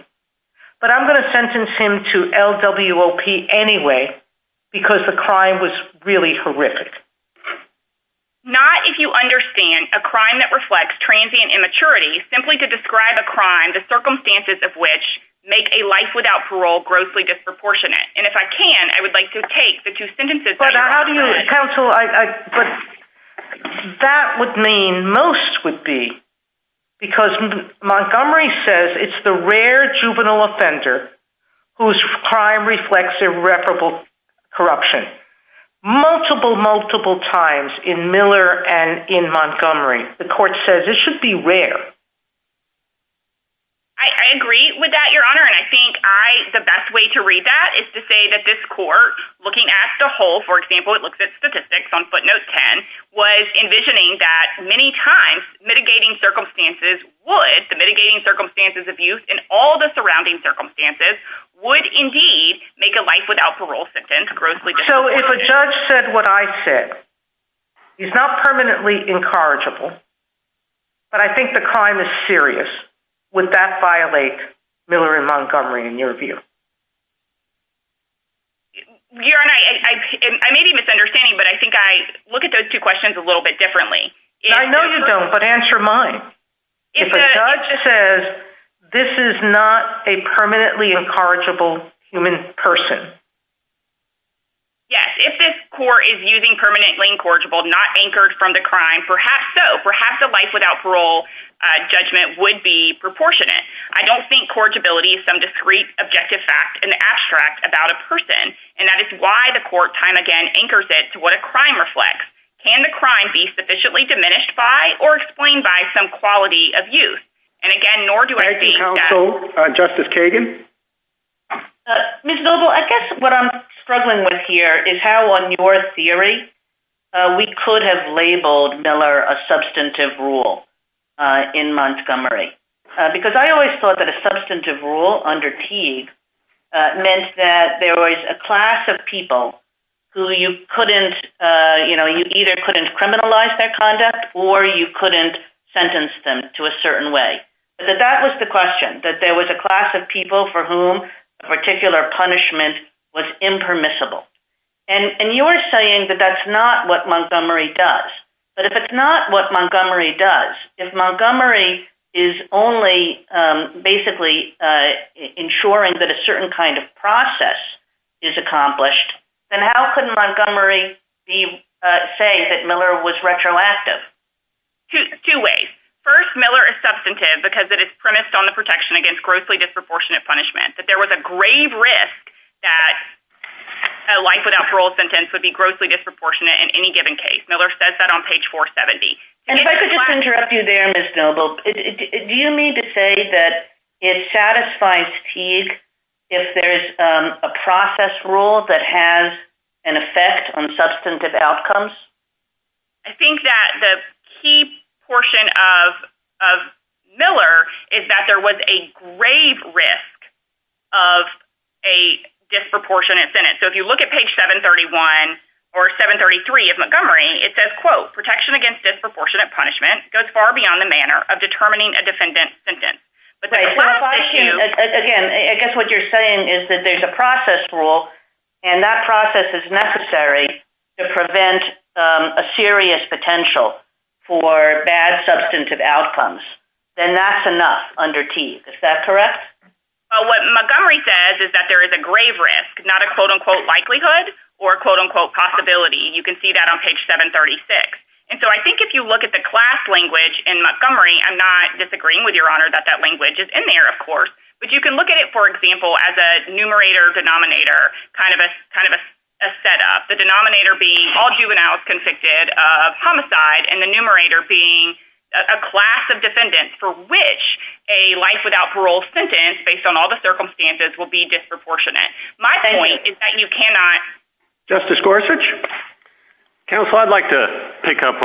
but I'm going to sentence him to LWOP anyway, because the crime was really horrific. Not if you understand a crime that reflects transient immaturity, simply to describe a crime, the circumstances of which make a life without parole grossly disproportionate. And if I can, I would like to take the two sentences, but how do you counsel? That would mean most would be because Montgomery says, it's the rare juvenile offender whose crime reflects irreparable corruption, multiple, multiple times in Miller and in Montgomery, the court says this should be rare. I agree with that, your honor. And I think I, the best way to read that is to say that this court looking at the whole, for example, it looks at statistics on footnote 10 was envisioning that many times mitigating circumstances, would the mitigating circumstances of use and all the surrounding circumstances would indeed make a life without parole. So if a judge said what I said, he's not permanently incorrigible, but I think the crime is serious. Would that violate Miller and Montgomery in your view? Your honor, I may be misunderstanding, but I think I look at those two questions a little bit differently. I know you don't, but answer mine. If a judge says, this is not a permanently incorrigible human person. Yes. If this court is using permanently incorrigible, not anchored from the crime, perhaps so perhaps a life without parole judgment would be proportionate. I don't think corrigibility is some discrete objective fact in the abstract about a person. And that is why the court time again, anchors it to what a crime reflects. Can the crime be sufficiently diminished by or explained by some quality of use? And again, nor do I think justice Kagan, Ms. Billable, I guess what I'm struggling with here is how on your theory, we could have labeled Miller, a substantive rule in Montgomery because I always thought that a substantive rule under T meant that there was a class of people who you couldn't, you know, you either couldn't criminalize their conduct or you couldn't sentence them to a certain way, but that that was the question that there was a class of people for whom particular punishment was impermissible. And you are saying that that's not what Montgomery does, but if it's not what Montgomery does, if Montgomery is only basically ensuring that a certain kind of process is accomplished, then how could Montgomery be saying that Miller was retroactive? Two ways. First Miller is substantive because it is premised on the protection against grossly disproportionate punishment, that there was a grave risk that a life without parole sentence would be grossly disproportionate in any given case. Miller says that on page four 70. If I could just interrupt you there, Ms. Billable, do you need to say that it satisfies Teague if there's a process rule that has an effect on substantive outcomes? I think that the key portion of Miller is that there was a grave risk of a disproportionate sentence. So if you look at page seven 31 or seven 33 of Montgomery, it says quote protection against disproportionate punishment goes far beyond the manner of determining a defendant sentence. Again, I guess what you're saying is that there's a process rule and that process is necessary to prevent a serious potential for bad substantive outcomes. Then that's enough under Teague. Is that correct? What Montgomery says is that there is a grave risk, not a quote unquote likelihood or quote unquote possibility. And you can see that on page seven 36. And so I think if you look at the class language in Montgomery, I'm not disagreeing with your honor that that language is in there, of course, but you can look at it for example as a numerator denominator, kind of a, kind of a set up the denominator being all juveniles convicted of homicide and the numerator being a class of defendants for which a life without parole sentence based on all the circumstances will be disproportionate. My point is that you cannot. Justice Gorsuch. Counsel, I'd like to pick up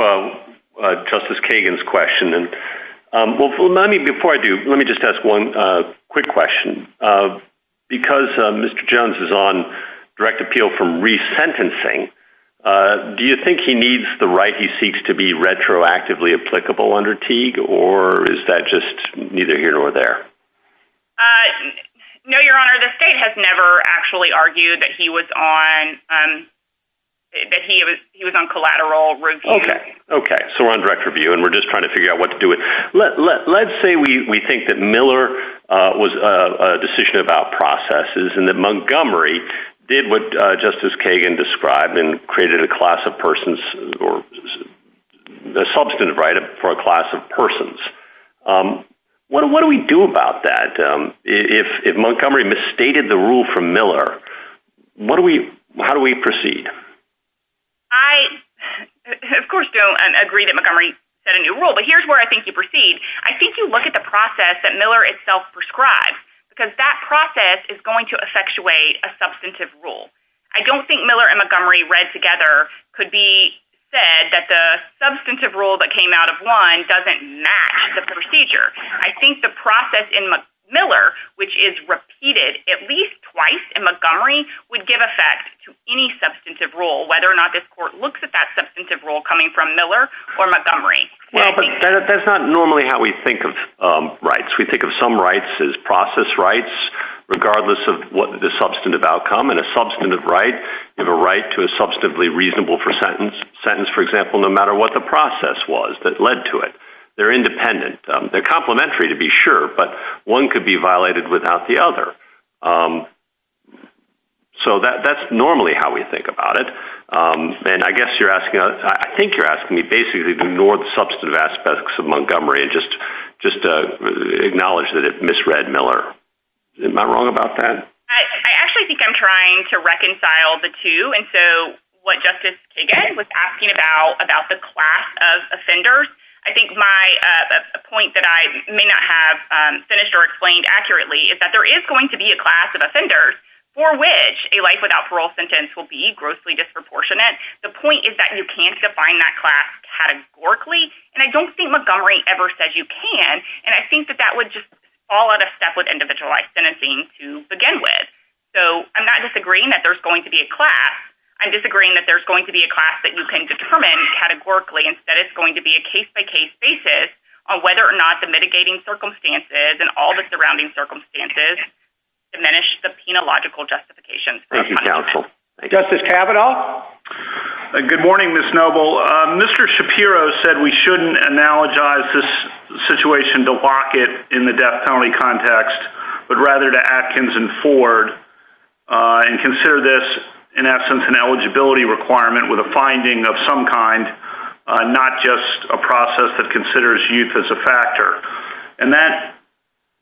justice Kagan's question. And hopefully let me, before I do, let me just ask one quick question because Mr. Jones is on direct appeal from resentencing. Do you think he needs the right? He seeks to be retroactively applicable under Teague or is that just neither here or there? your honor. The state has never actually argued that he was on, that he was, he was on collateral review. Okay. So we're on direct review and we're just trying to figure out what to do with let, let, let's say we think that Miller was a decision about processes and that Montgomery did what justice Kagan described and created a class of persons or the substantive right for a class of persons. What do we do about that? If Montgomery misstated the rule from Miller, what do we, how do we proceed? I of course don't agree that Montgomery set a new rule, but here's where I think you proceed. I think you look at the process that Miller itself prescribed because that process is going to effectuate a substantive rule. I don't think Miller and Montgomery read together could be said that the substantive rule that came out of one doesn't match the procedure. I think the process in Miller, which is repeated at least twice in Montgomery would give effect to any substantive rule, whether or not this court looks at that substantive rule coming from Miller or Montgomery. That's not normally how we think of rights. We think of some rights as process rights, regardless of what the substantive outcome and a substantive right, you have a right to a substantively reasonable for sentence sentence. For example, no matter what the process was that led to it, they're independent. They're complimentary to be sure, but one could be violated without the other. So that's normally how we think about it. And I guess you're asking, I think you're asking me basically ignored substantive aspects of Montgomery and just, just acknowledge that it misread Miller. Am I wrong about that? I actually think I'm trying to reconcile the two. And so what justice again was asking about, about the class of offenders. I think my point that I may not have finished or explained accurately is that there is going to be a class of offenders for which a life without parole sentence will be grossly disproportionate. The point is that you can't define that class categorically. And I don't think Montgomery ever says you can. And I think that that would just fall out of step with individualized sentencing to begin with. So I'm not disagreeing that there's going to be a class. I'm disagreeing that there's going to be a class that you can determine categorically. Instead, it's going to be a case by case basis on whether or not the mitigating circumstances and all the surrounding circumstances diminish the logical justification. Thank you. Justice Kavanaugh. Good morning, Ms. Noble. Mr. Shapiro said we shouldn't analogize this situation to lock it in the death penalty context, but rather to Atkins and Ford and consider this in essence, an eligibility requirement with a finding of some kind, not just a process that considers youth as a factor. And that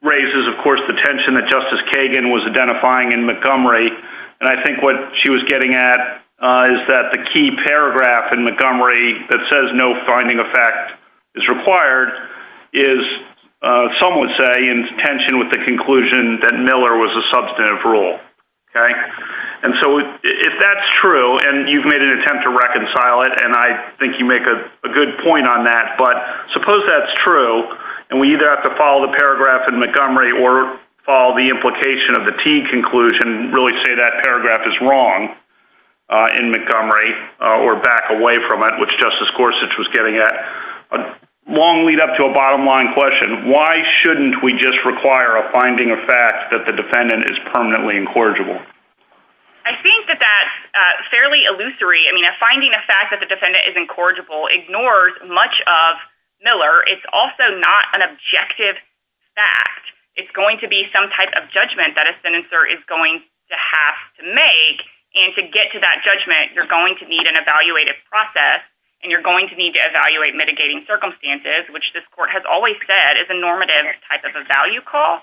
raises, of course, the tension that Justice Kagan was identifying in Montgomery. And I think what she was getting at is that the key paragraph in Montgomery that says no finding effect is required, is some would say in tension with the conclusion that Miller was a substantive rule. Okay. And so if that's true and you've made an attempt to reconcile it, and I think you make a good point on that, but suppose that's true and we either have to follow the paragraph in Montgomery or follow the implication of the T conclusion, really say that paragraph is wrong in Montgomery or back away from it, which Justice Gorsuch was getting at a long lead up to a bottom line question. Why shouldn't we just require a finding of fact that the defendant is incorrigible? I think that that's a fairly illusory. I mean, a finding of fact that the defendant is incorrigible ignores much of Miller. It's also not an objective fact. It's going to be some type of judgment that a senator is going to have to make. And to get to that judgment, you're going to need an evaluated process and you're going to need to evaluate mitigating circumstances, which this court has always said is a normative type of a value call.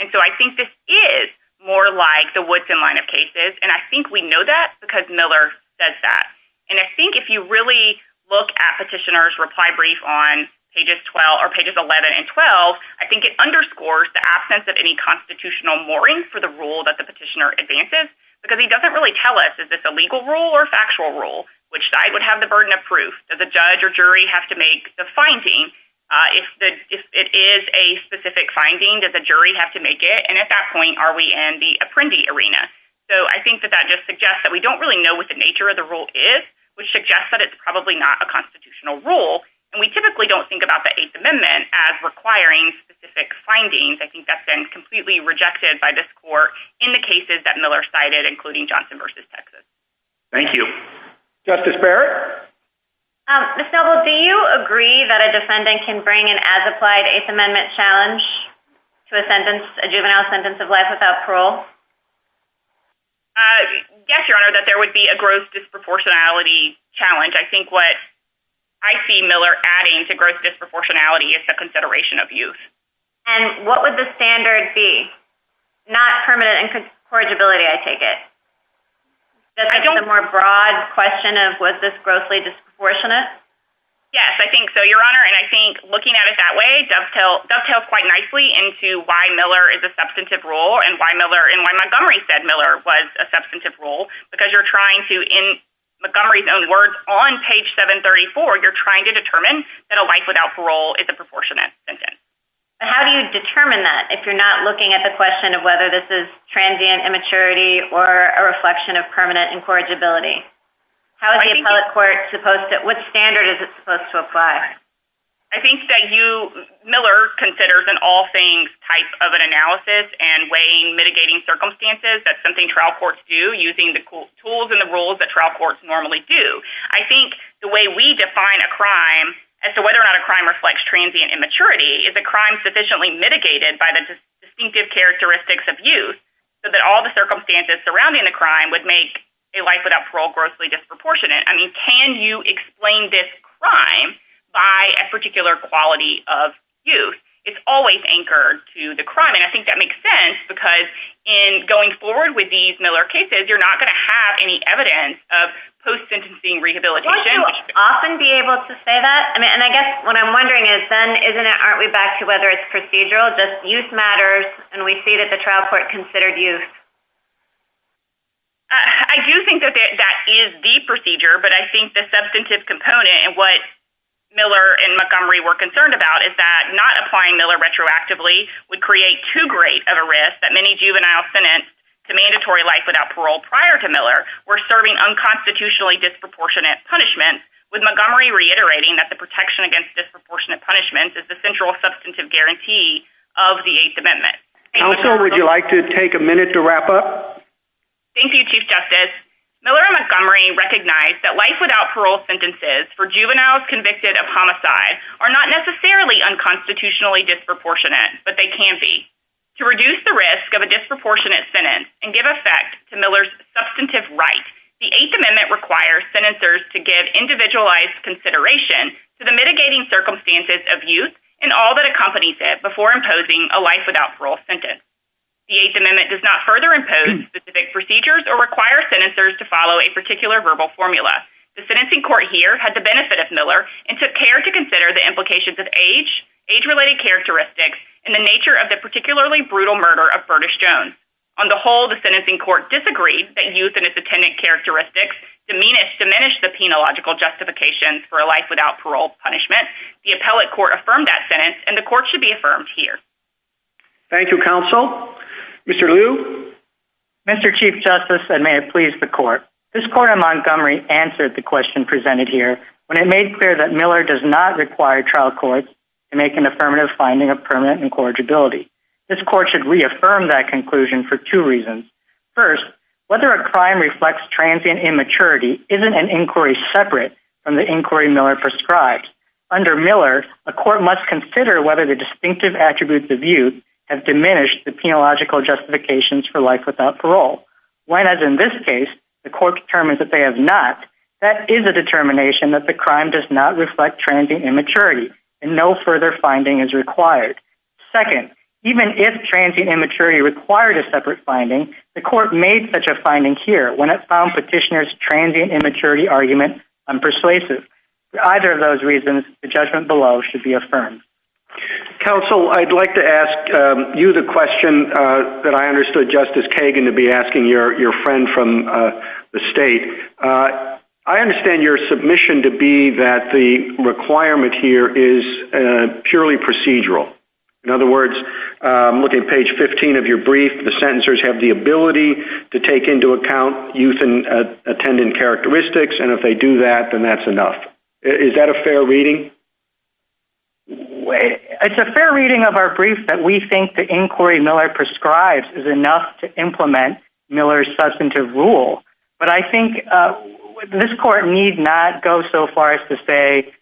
And so I think this is more like the Woodson line of cases. And I think we know that because Miller does that. And I think if you really look at petitioners reply brief on pages 12 or pages 11 and 12, I think it underscores the absence of any constitutional mooring for the rule that the petitioner advances, because he doesn't really tell us, is this a legal rule or factual rule, which side would have the burden of proof that the judge or jury have to make the finding. If it is a specific finding, does the jury have to make it? And at that point, are we in the apprendee arena? So I think that that just suggests that we don't really know what the nature of the rule is, which suggests that it's probably not a constitutional rule. And we typically don't think about the eighth amendment as requiring specific findings. I think that's been completely rejected by this court in the cases that Miller cited, including Johnson versus Texas. Thank you. Justice Barrett. Do you agree that a defendant can bring an as applied eighth amendment challenge to a sentence, a juvenile sentence of life without parole? Yes, Your Honor, that there would be a gross disproportionality challenge. I think what I see Miller adding to gross disproportionality is the consideration of youth. And what would the standard be not permanent and courage ability? I take it. The more broad question of what this grossly disproportionate. Yes, I think so. Your Honor. And I think looking at it that way, dovetail dovetails quite nicely into why Miller is a substantive role and why Miller and why Montgomery said Miller was a substantive role, because you're trying to in Montgomery's own words on page seven 34, you're trying to determine that a life without parole is a proportionate sentence. How do you determine that? If you're not looking at the question of whether this is transient immaturity or a reflection of permanent incorrigibility, how is the public court to post it? What standard is it supposed to apply? I think that you Miller considers in all things types of an analysis and weighing mitigating circumstances. That's something trial courts do using the tools and the rules that trial courts normally do. I think the way we define a crime as to whether or not a crime reflects transient immaturity is a crime sufficiently mitigated by the distinctive characteristics of youth. So that all the circumstances surrounding the crime would make a life without parole grossly disproportionate. I mean, can you explain this crime by a particular quality of youth? It's always anchored to the crime. And I think that makes sense because in going forward with these Miller cases, you're not going to have any evidence of post sentencing rehabilitation. Often be able to say that. And I guess what I'm wondering is then, isn't it, aren't we back to whether it's procedural, just youth matters and we see that the trial court considered you. I do think that that is the procedure, but I think the substantive component and what Miller and Montgomery were concerned about is that not applying Miller retroactively would create too great of a risk that many juvenile sentence to mandatory life without parole prior to Miller or serving unconstitutionally disproportionate punishment with Montgomery reiterating that the protection against disproportionate punishment is the central substantive guarantee of the eighth amendment. Would you like to take a minute to wrap up? Thank you, chief justice. Miller Montgomery recognized that life without parole sentences for juveniles convicted of homicide are not necessarily unconstitutionally disproportionate, but they can be to reduce the risk of a disproportionate sentence and give effect to Miller's substantive right. The eighth amendment requires senators to give individualized consideration to mitigating circumstances of youth and all that accompanies it before imposing a life without parole sentence. The eighth amendment does not further impose specific procedures or require senators to follow a particular verbal formula. The sentencing court here had the benefit of Miller and took care to consider the implications of age, age related characteristics and the nature of the particularly brutal murder of Burtis Jones. the sentencing court disagreed that youth and its attendant characteristics diminish the penological justification for a life without parole punishment. The appellate court affirmed that sentence and the court should be affirmed here. Thank you, counsel. Mr. Liu. Mr. Chief Justice and may it please the court. This court in Montgomery answered the question presented here when it made clear that Miller does not require trial courts to make an affirmative finding of permanent incorrigibility. This court should reaffirm that conclusion for two reasons. First, whether a crime reflects transient immaturity isn't an inquiry separate from the inquiry Miller prescribed. Under Miller, the court must consider whether the distinctive attributes of youth have diminished the penological justifications for life without parole. When, as in this case, the court determined that they have not, that is a determination that the crime does not reflect transient immaturity and no further finding is required. Second, even if transient immaturity required a separate finding, the court made such a finding here when it found petitioners' transient immaturity argument persuasive. For either of those reasons, the judgment below should be affirmed. Counsel, I'd like to ask you the question that I understood, Justice Kagan to be asking your friend from the state. I understand your submission to be that the requirement here is purely procedural. In other words, look at page 15 of your brief. The sentencers have the ability to take into account youth and attendant characteristics. And if they do that, then that's enough. Is that a fair reading? It's a fair reading of our brief that we think the inquiry Miller prescribes is enough to implement Miller's substantive rule. But I think this court need not go so far as to say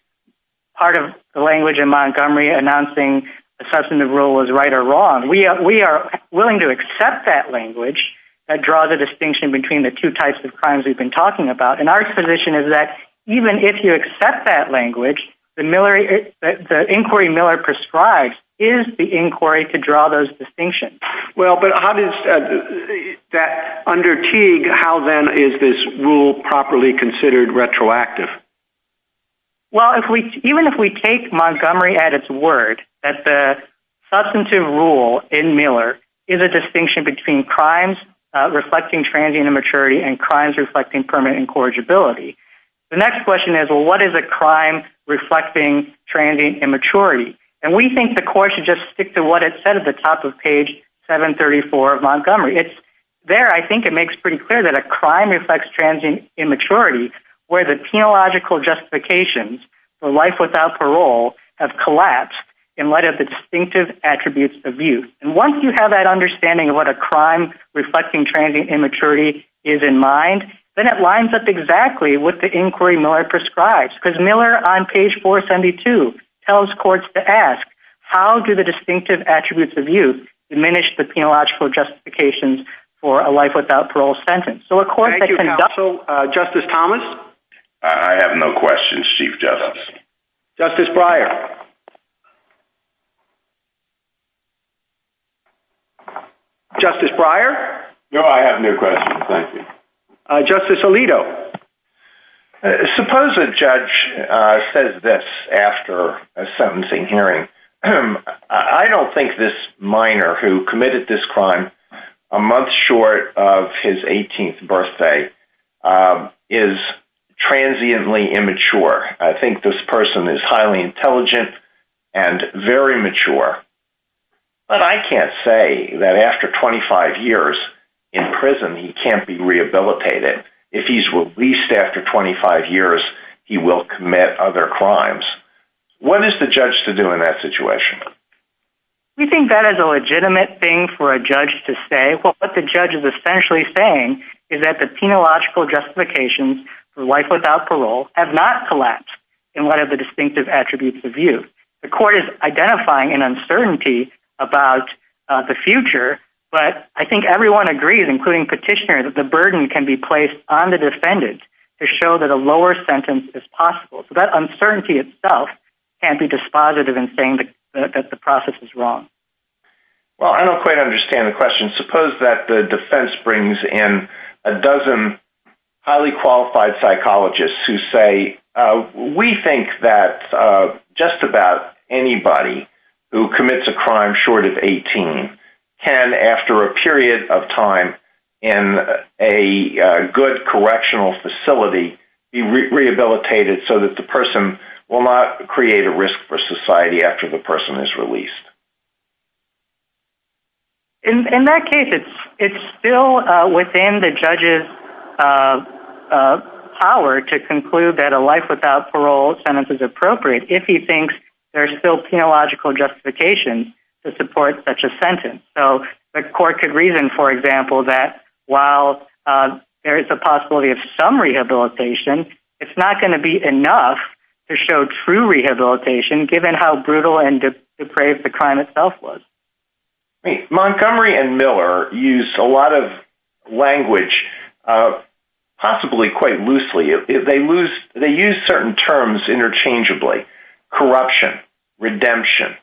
part of the language in Montgomery announcing the substantive rule was right or wrong. We are willing to accept that language that draws a distinction between the two types of crimes we've been talking about. And our position is that even if you accept that language, the inquiry Miller prescribes is the inquiry to draw those distinctions. Well, but how does that under Teague, how then is this rule properly considered retroactive? Well, if we, even if we take Montgomery at its word that the substantive rule in Miller is a distinction between crimes reflecting transient immaturity and crimes reflecting permanent incorrigibility. The next question is, well what is a crime reflecting transient immaturity? And we think the court should just stick to what it said at the top of page seven 34 of Montgomery. It's there. I think it makes pretty clear that a crime reflects transient immaturity where the theological justifications, the life without parole have collapsed in light of the distinctive attributes of youth. And once you have that understanding of what a crime reflecting transient immaturity is in mind, then it lines up exactly with the inquiry Miller prescribes because Miller on page four 72 tells courts to ask, how do the distinctive attributes of youth diminish the theological justifications for a life without parole sentence? So justice Thomas, I have no questions. Chief justice. Justice Breyer. Justice Breyer. No, I have no questions. Thank you. Justice Alito, suppose a judge says this after a sentencing hearing. I don't think this minor who committed this crime a month short of his birthday is transiently immature. I think this person is highly intelligent and very mature, but I can't say that after 25 years in prison, he can't be rehabilitated. If he's released after 25 years, he will commit other crimes. What is the judge to do in that situation? We think that as a legitimate thing for a judge to say, well, what the judge is essentially saying is that the penological justifications for life without parole have not collapsed in one of the distinctive attributes of youth. The court is identifying an uncertainty about the future, but I think everyone agrees, including petitioner, that the burden can be placed on the defendant to show that a lower sentence is possible. So that uncertainty itself can't be dispositive and saying that the process is wrong. Well, I don't quite understand the question. Suppose that the defense brings in a dozen highly qualified psychologists who say, we think that just about anybody who commits a crime short of 18 can, after a period of time in a good correctional facility, be rehabilitated so that the person will not create a risk for society after the person is released. In that case, it's still within the judge's power to conclude that a life without parole sentence is appropriate if he thinks there's still penological justification to support such a sentence. So the court could reason, for example, that while there is a possibility of some rehabilitation, it's not going to be enough to show true rehabilitation, given how brutal and depraved the crime itself was. Montgomery and Miller used a lot of language, possibly quite loosely. They use certain terms interchangeably, corruption, redemption,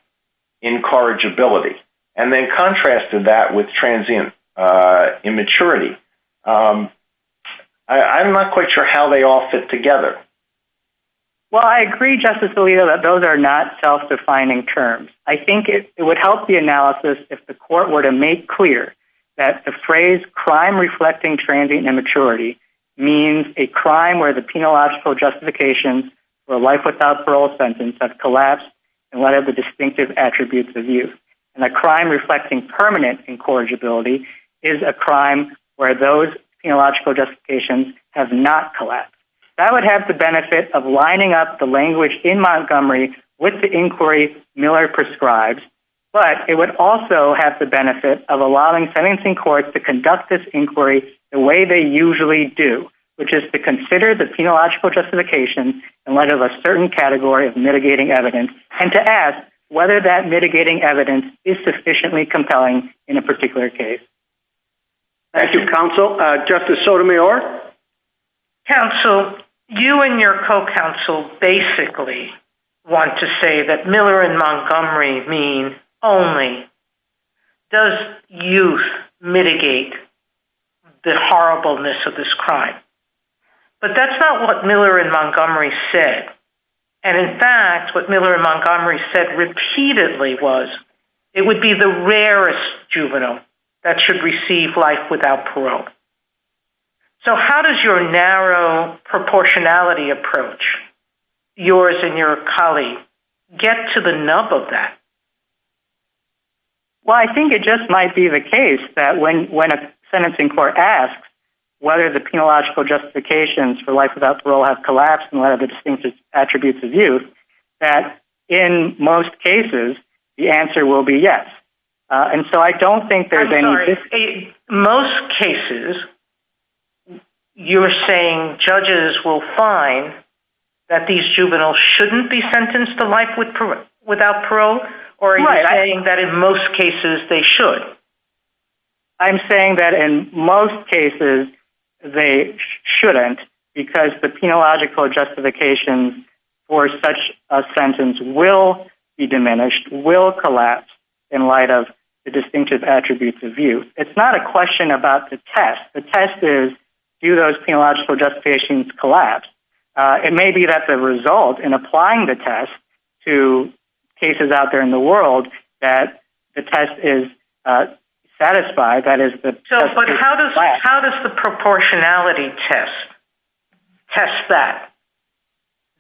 incorrigibility, and then contrasted that with transient immaturity. I'm not quite sure how they all fit together. Well, I agree, Justice Alito, that those are not self-defining terms. I think it would help the analysis if the court were to make clear that the phrase crime reflecting transient immaturity means a crime where the penological justification for life without parole sentence has collapsed. And what are the distinctive attributes of you? And a crime reflecting permanent incorrigibility is a crime where those penological justifications have not collapsed. That would have the benefit of lining up the language in Montgomery with the inquiry Miller prescribes, but it would also have the benefit of allowing sentencing courts to conduct this inquiry the way they usually do, which is to consider the penological justification and whether there's a certain category of mitigating evidence and to ask whether that mitigating evidence is sufficiently compelling in a particular case. Thank you, Counsel. Justice Sotomayor. Counsel, you and your co-counsel basically want to say that Miller and Montgomery mean only, does youth mitigate the horribleness of this crime? But that's not what Miller and Montgomery said. And in fact, what Miller and Montgomery said repeatedly was it would be the rarest crime to receive life without parole. So how does your narrow proportionality approach yours and your colleague get to the nub of that? Well, I think it just might be the case that when, when a sentencing court asks whether the penological justifications for life without parole have collapsed and what are the distinctive attributes of you that in most cases the answer will be yes. And so I don't think there's any, most cases you're saying judges will find that these juveniles shouldn't be sentenced to life without parole or that in most cases they should. I'm saying that in most cases they shouldn't because the penological justifications will collapse in light of the distinctive attributes of you. It's not a question about the test. The test is do those penological justifications collapse? It may be that the result in applying the test to cases out there in the world that the test is satisfied. That is the, how does the proportionality test test that?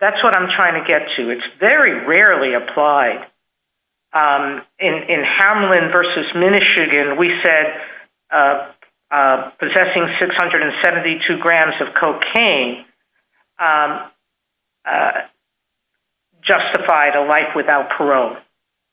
That's what I'm trying to get to. It's very rarely applied. In Hamlin versus Michigan, we said possessing 672 grams of cocaine justified a life without parole.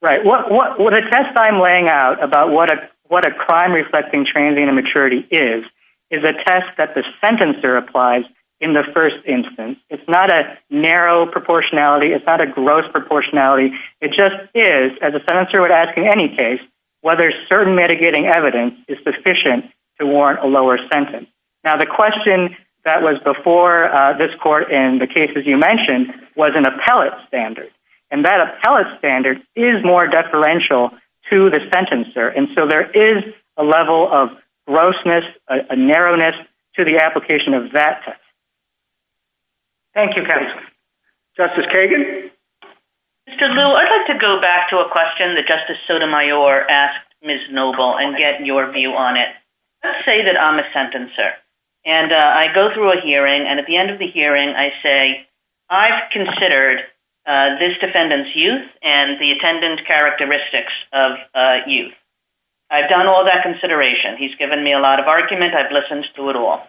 Right. What, what, what a test I'm laying out about what a, what a crime reflecting transient immaturity is, is a test that the sentencer applies in the first instance. It's not a narrow proportionality. It's not a gross proportionality. It just is as a senator would ask in any case, whether certain mitigating evidence is sufficient to warrant a lower sentence. Now the question that was before this court in the cases you mentioned was an appellate standard and that appellate standard is more deferential to the sentencer. And so there is a level of grossness, a narrowness to the application of that. Thank you guys. Justice Kagan. I'd like to go back to a question that Justice Sotomayor asked Ms. Noble and get your view on it. Let's say that I'm a sentencer and I go through a hearing and at the end of the hearing I say, I've considered this defendant's youth and the attendant's characteristics of youth. I've done all that consideration. He's given me a lot of arguments. I've listened to it all.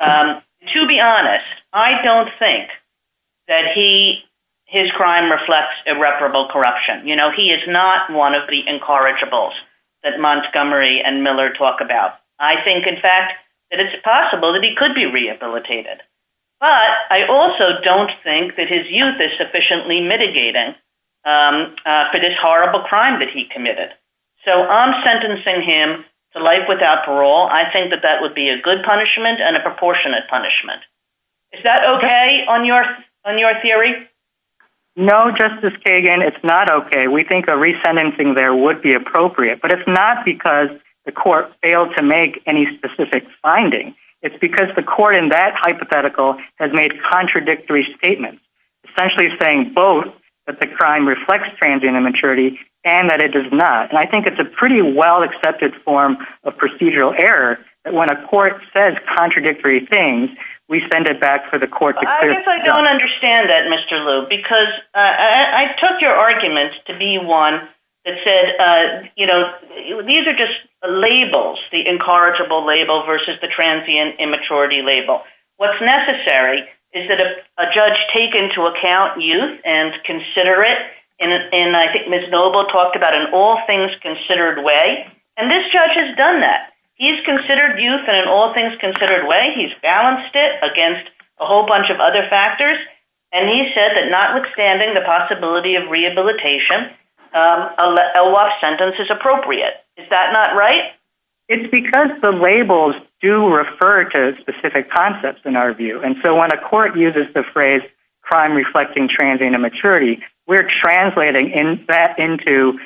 To be honest, I don't think that he, his crime reflects irreparable corruption. You know, he is not one of the incorrigibles that Montgomery and Miller talk about. I think in fact that it's possible that he could be rehabilitated, but I also don't think that his youth is sufficiently mitigating for this horrible crime that he committed. So I'm sentencing him to life without parole. I think that that would be a good punishment and a proportionate punishment. Is that okay on your, on your theory? No, Justice Kagan, it's not okay. We think a resentencing there would be appropriate, but it's not because the court failed to make any specific finding. It's because the court in that hypothetical has made contradictory statements, essentially saying both that the crime reflects transient immaturity and that it does not. And I think it's a pretty well accepted form of procedural error that when a defendant is sentenced to life without parole, he should be sent back to the court. I don't understand that Mr. Lou, because I took your arguments to be one that said, you know, these are just labels, the incorrigible label versus the transient immaturity label. What's necessary is that a judge take into account youth and consider it. And I think Ms. Noble talked about an all things considered way. And this judge has done that. He's considered youth and an all things considered way. He's balanced it against a whole bunch of other factors. And he said that notwithstanding the possibility of rehabilitation, a law sentence is appropriate. Is that not right? It's because the labels do refer to specific concepts in our view. And so when a court uses the phrase, crime reflecting transient immaturity, we're translating in that into,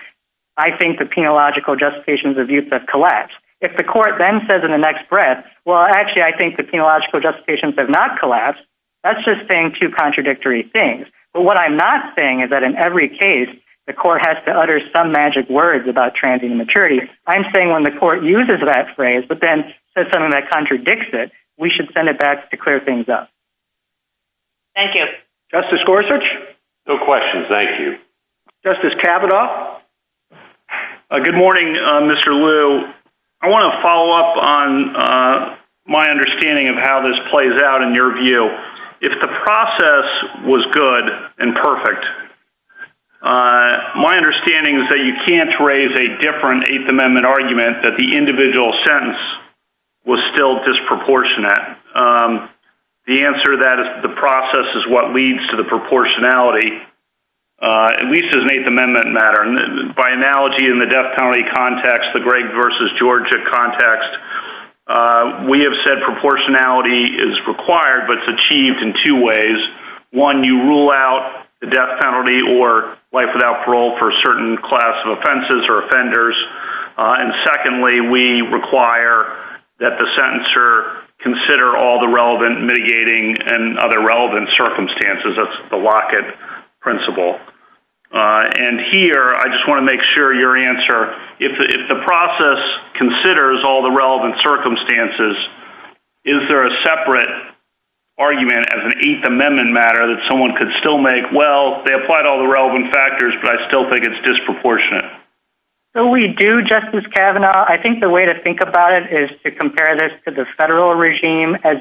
I think the penological justifications of youth that collapse. If the court then says in the next breath, well, actually I think the penological justifications have not collapsed. That's just saying two contradictory things. But what I'm not saying is that in every case, the court has to utter some magic words about transient immaturity. I'm saying when the court uses that phrase, but then says something that contradicts it, we should send it back to clear things up. Thank you. Justice Gorsuch. No questions. Thank you. Justice Kavanaugh. Good morning, Mr. Lew. I want to follow up on my understanding of how this plays out in your view. If the process was good and perfect, my understanding is that you can't raise a different eighth amendment argument that the individual sentence was still disproportionate. The answer to that is the process is what leads to the proportionality, at least as an eighth amendment matter. By analogy in the death penalty context, the Greg versus Georgia context, we have said proportionality is required, but it's achieved in two ways. One, you rule out the death penalty or life without parole for a certain class of offenses or offenders. And secondly, we require that the sentencer consider all the relevant mitigating and other relevant circumstances. That's the Lockett principle. And here, I just want to make sure your answer, if the process considers all the relevant circumstances, is there a separate argument as an eighth amendment matter that someone could still make? Well, they applied all the relevant factors, but I still think it's disproportionate. So we do justice Kavanaugh. I think the way to think about it is to compare this to the federal regime as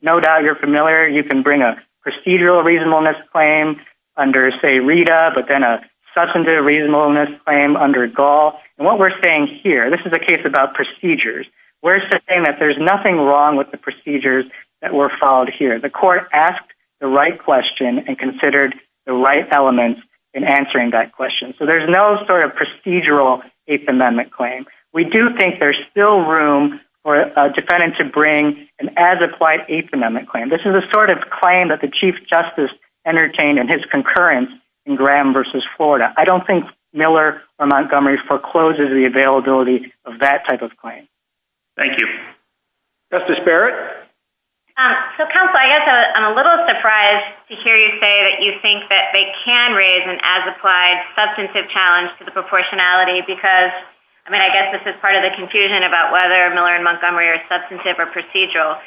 no doubt you're familiar. You can bring a procedural reasonableness claim under say Rita, but then a substantive reasonableness claim under goal. And what we're saying here, this is a case about procedures. We're saying that there's nothing wrong with the procedures that were followed here. The court asked the right question and considered the right elements in answering that question. So there's no sort of procedural eighth amendment claim. We do think there's still room for a defendant to bring an as applied eighth amendment claim. This is a sort of claim that the chief justice entertained in his concurrence in Graham versus Florida. I don't think Miller or Montgomery forecloses the availability of that type of claim. Thank you. That's the spirit. I'm a little surprised to hear you say that you think that they can raise an as applied substantive challenge to the proportionality, because I mean, I guess this is part of the confusion about whether Miller and Montgomery are substantive or procedural,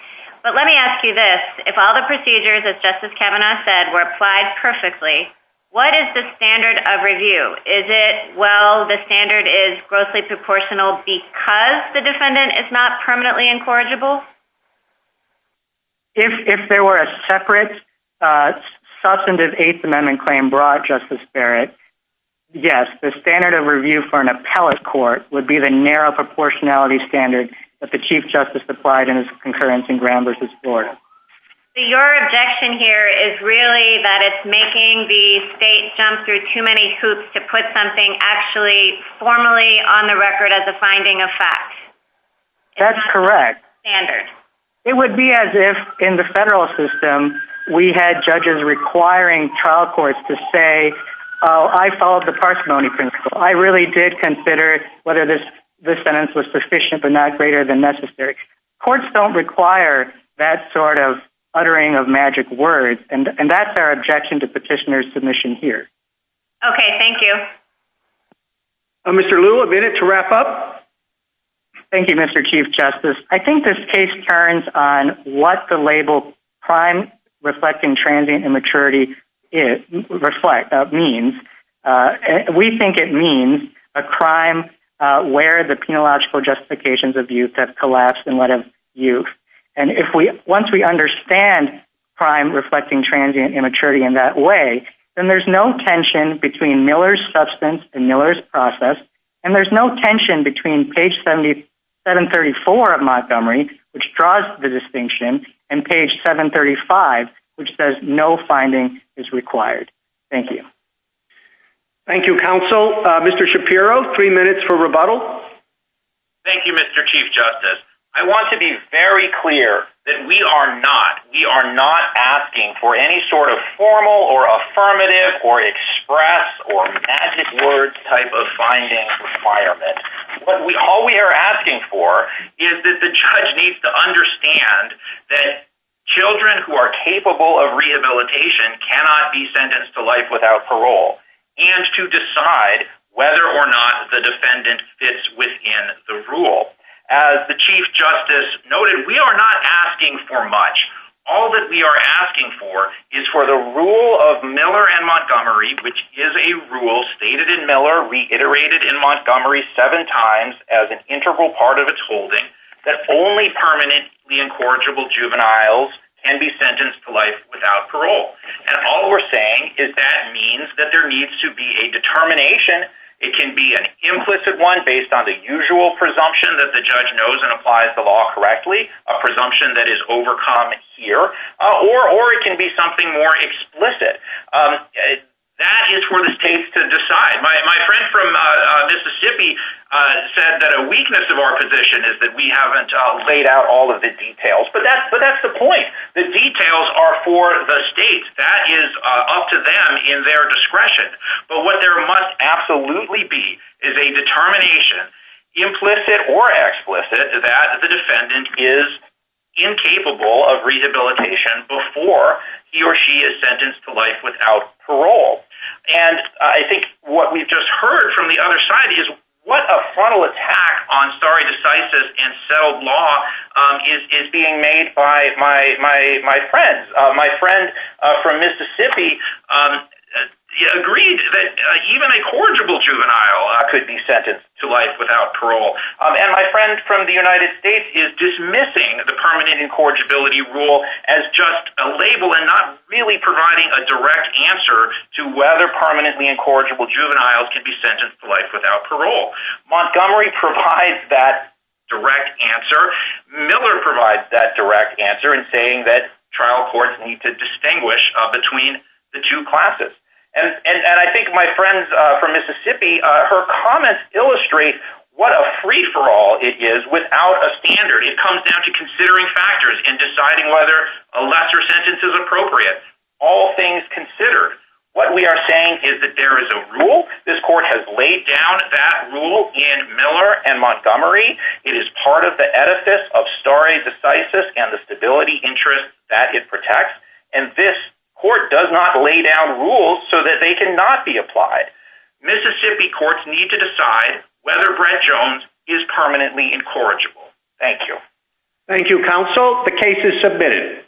but let me ask you this. If all the procedures as justice Kavanaugh said were applied perfectly, what is the standard of review? Is it? Well, the standard is grossly proportional because the defendant is not permanently incorrigible. If there were a separate substantive eighth amendment claim brought justice Barrett. Yes. The standard of review for an appellate court would be the narrow proportionality standard that the chief justice applied in his concurrence in Graham versus Florida. Your objection here is really that it's making the state jump through too many hoops to put something actually formally on the record as a finding of fact. That's correct. Standard. It would be as if in the federal system, we had judges requiring trial courts to say, I followed the parsimony principle. I really did consider whether this, this sentence was sufficient but not greater than necessary. Courts don't require that sort of uttering of magic words. And that's our objection to petitioner submission here. Okay. Thank you. Mr. Lula did it to wrap up. Thank you, Mr. Chief justice. I think this case turns on what the label crime reflecting transient immaturity is reflect. That means we think it means. A crime where the penological justifications of youth have collapsed and what have you. And if we, once we understand crime reflecting transient immaturity in that way, then there's no tension between Miller's substance and Miller's process. And there's no tension between page 77 34 of Montgomery, which draws the distinction and page seven 35, which says no finding is required. Thank you. Thank you. Council, Mr. Shapiro, three minutes for rebuttal. Thank you, Mr. Chief justice. I want to be very clear that we are not, we are not asking for any sort of formal or affirmative or express or magic words type of findings. All we are asking for is that the judge needs to understand that children who are capable of rehabilitation cannot be sentenced to life without parole. And to decide whether or not the defendant fits within the rule as the chief justice noted, we are not asking for much. All that we are asking for is for the rule of Miller and Montgomery, which is a rule stated in Miller reiterated in Montgomery seven times as an integral part of its holding that only permanent, the incorrigible juveniles can be sentenced to life without parole. And all we're saying is that means that there needs to be a determination. It can be an implicit one based on the usual presumption that the judge knows and applies the law correctly, a presumption that is overcome here or, or it can be something more explicit. That is for the state to decide. My friend from Mississippi said that a weakness of our position is that we haven't laid out all of the details, but that's, but that's the point. The details are for the state that is up to them in their discretion. But what there must absolutely be is a determination implicit or explicit that the defendant is incapable of rehabilitation before he or she is sentenced to life without parole. And I think what we've just heard from the other side is what a funnel attack on sorry, decisive and settled law is, is being made by my, my, my friends. My friend from Mississippi agreed that even a corrigible juvenile could be sentenced to life without parole. And my friend from the United States is dismissing the permanent incorrigibility rule as just a label and not really providing a direct answer to whether permanently incorrigible juveniles can be sentenced to life without parole. Montgomery provides that direct answer. Miller provides that direct answer and saying that trial courts need to distinguish between the two classes. And, and I think my friends from Mississippi, her comments illustrate what a free for all it is without a standard. It comes down to considering factors in deciding whether a lesser sentence is appropriate. All things considered, what we are saying is that there is a rule. This court has laid down that rule in Miller and Montgomery. It is part of the edifice of starry decisive and the stability interest that it protects. And this court does not lay down rules so that they can not be applied. Mississippi courts need to decide whether bread Jones is permanently incorrigible. Thank you. Thank you. Counsel. The case is submitted.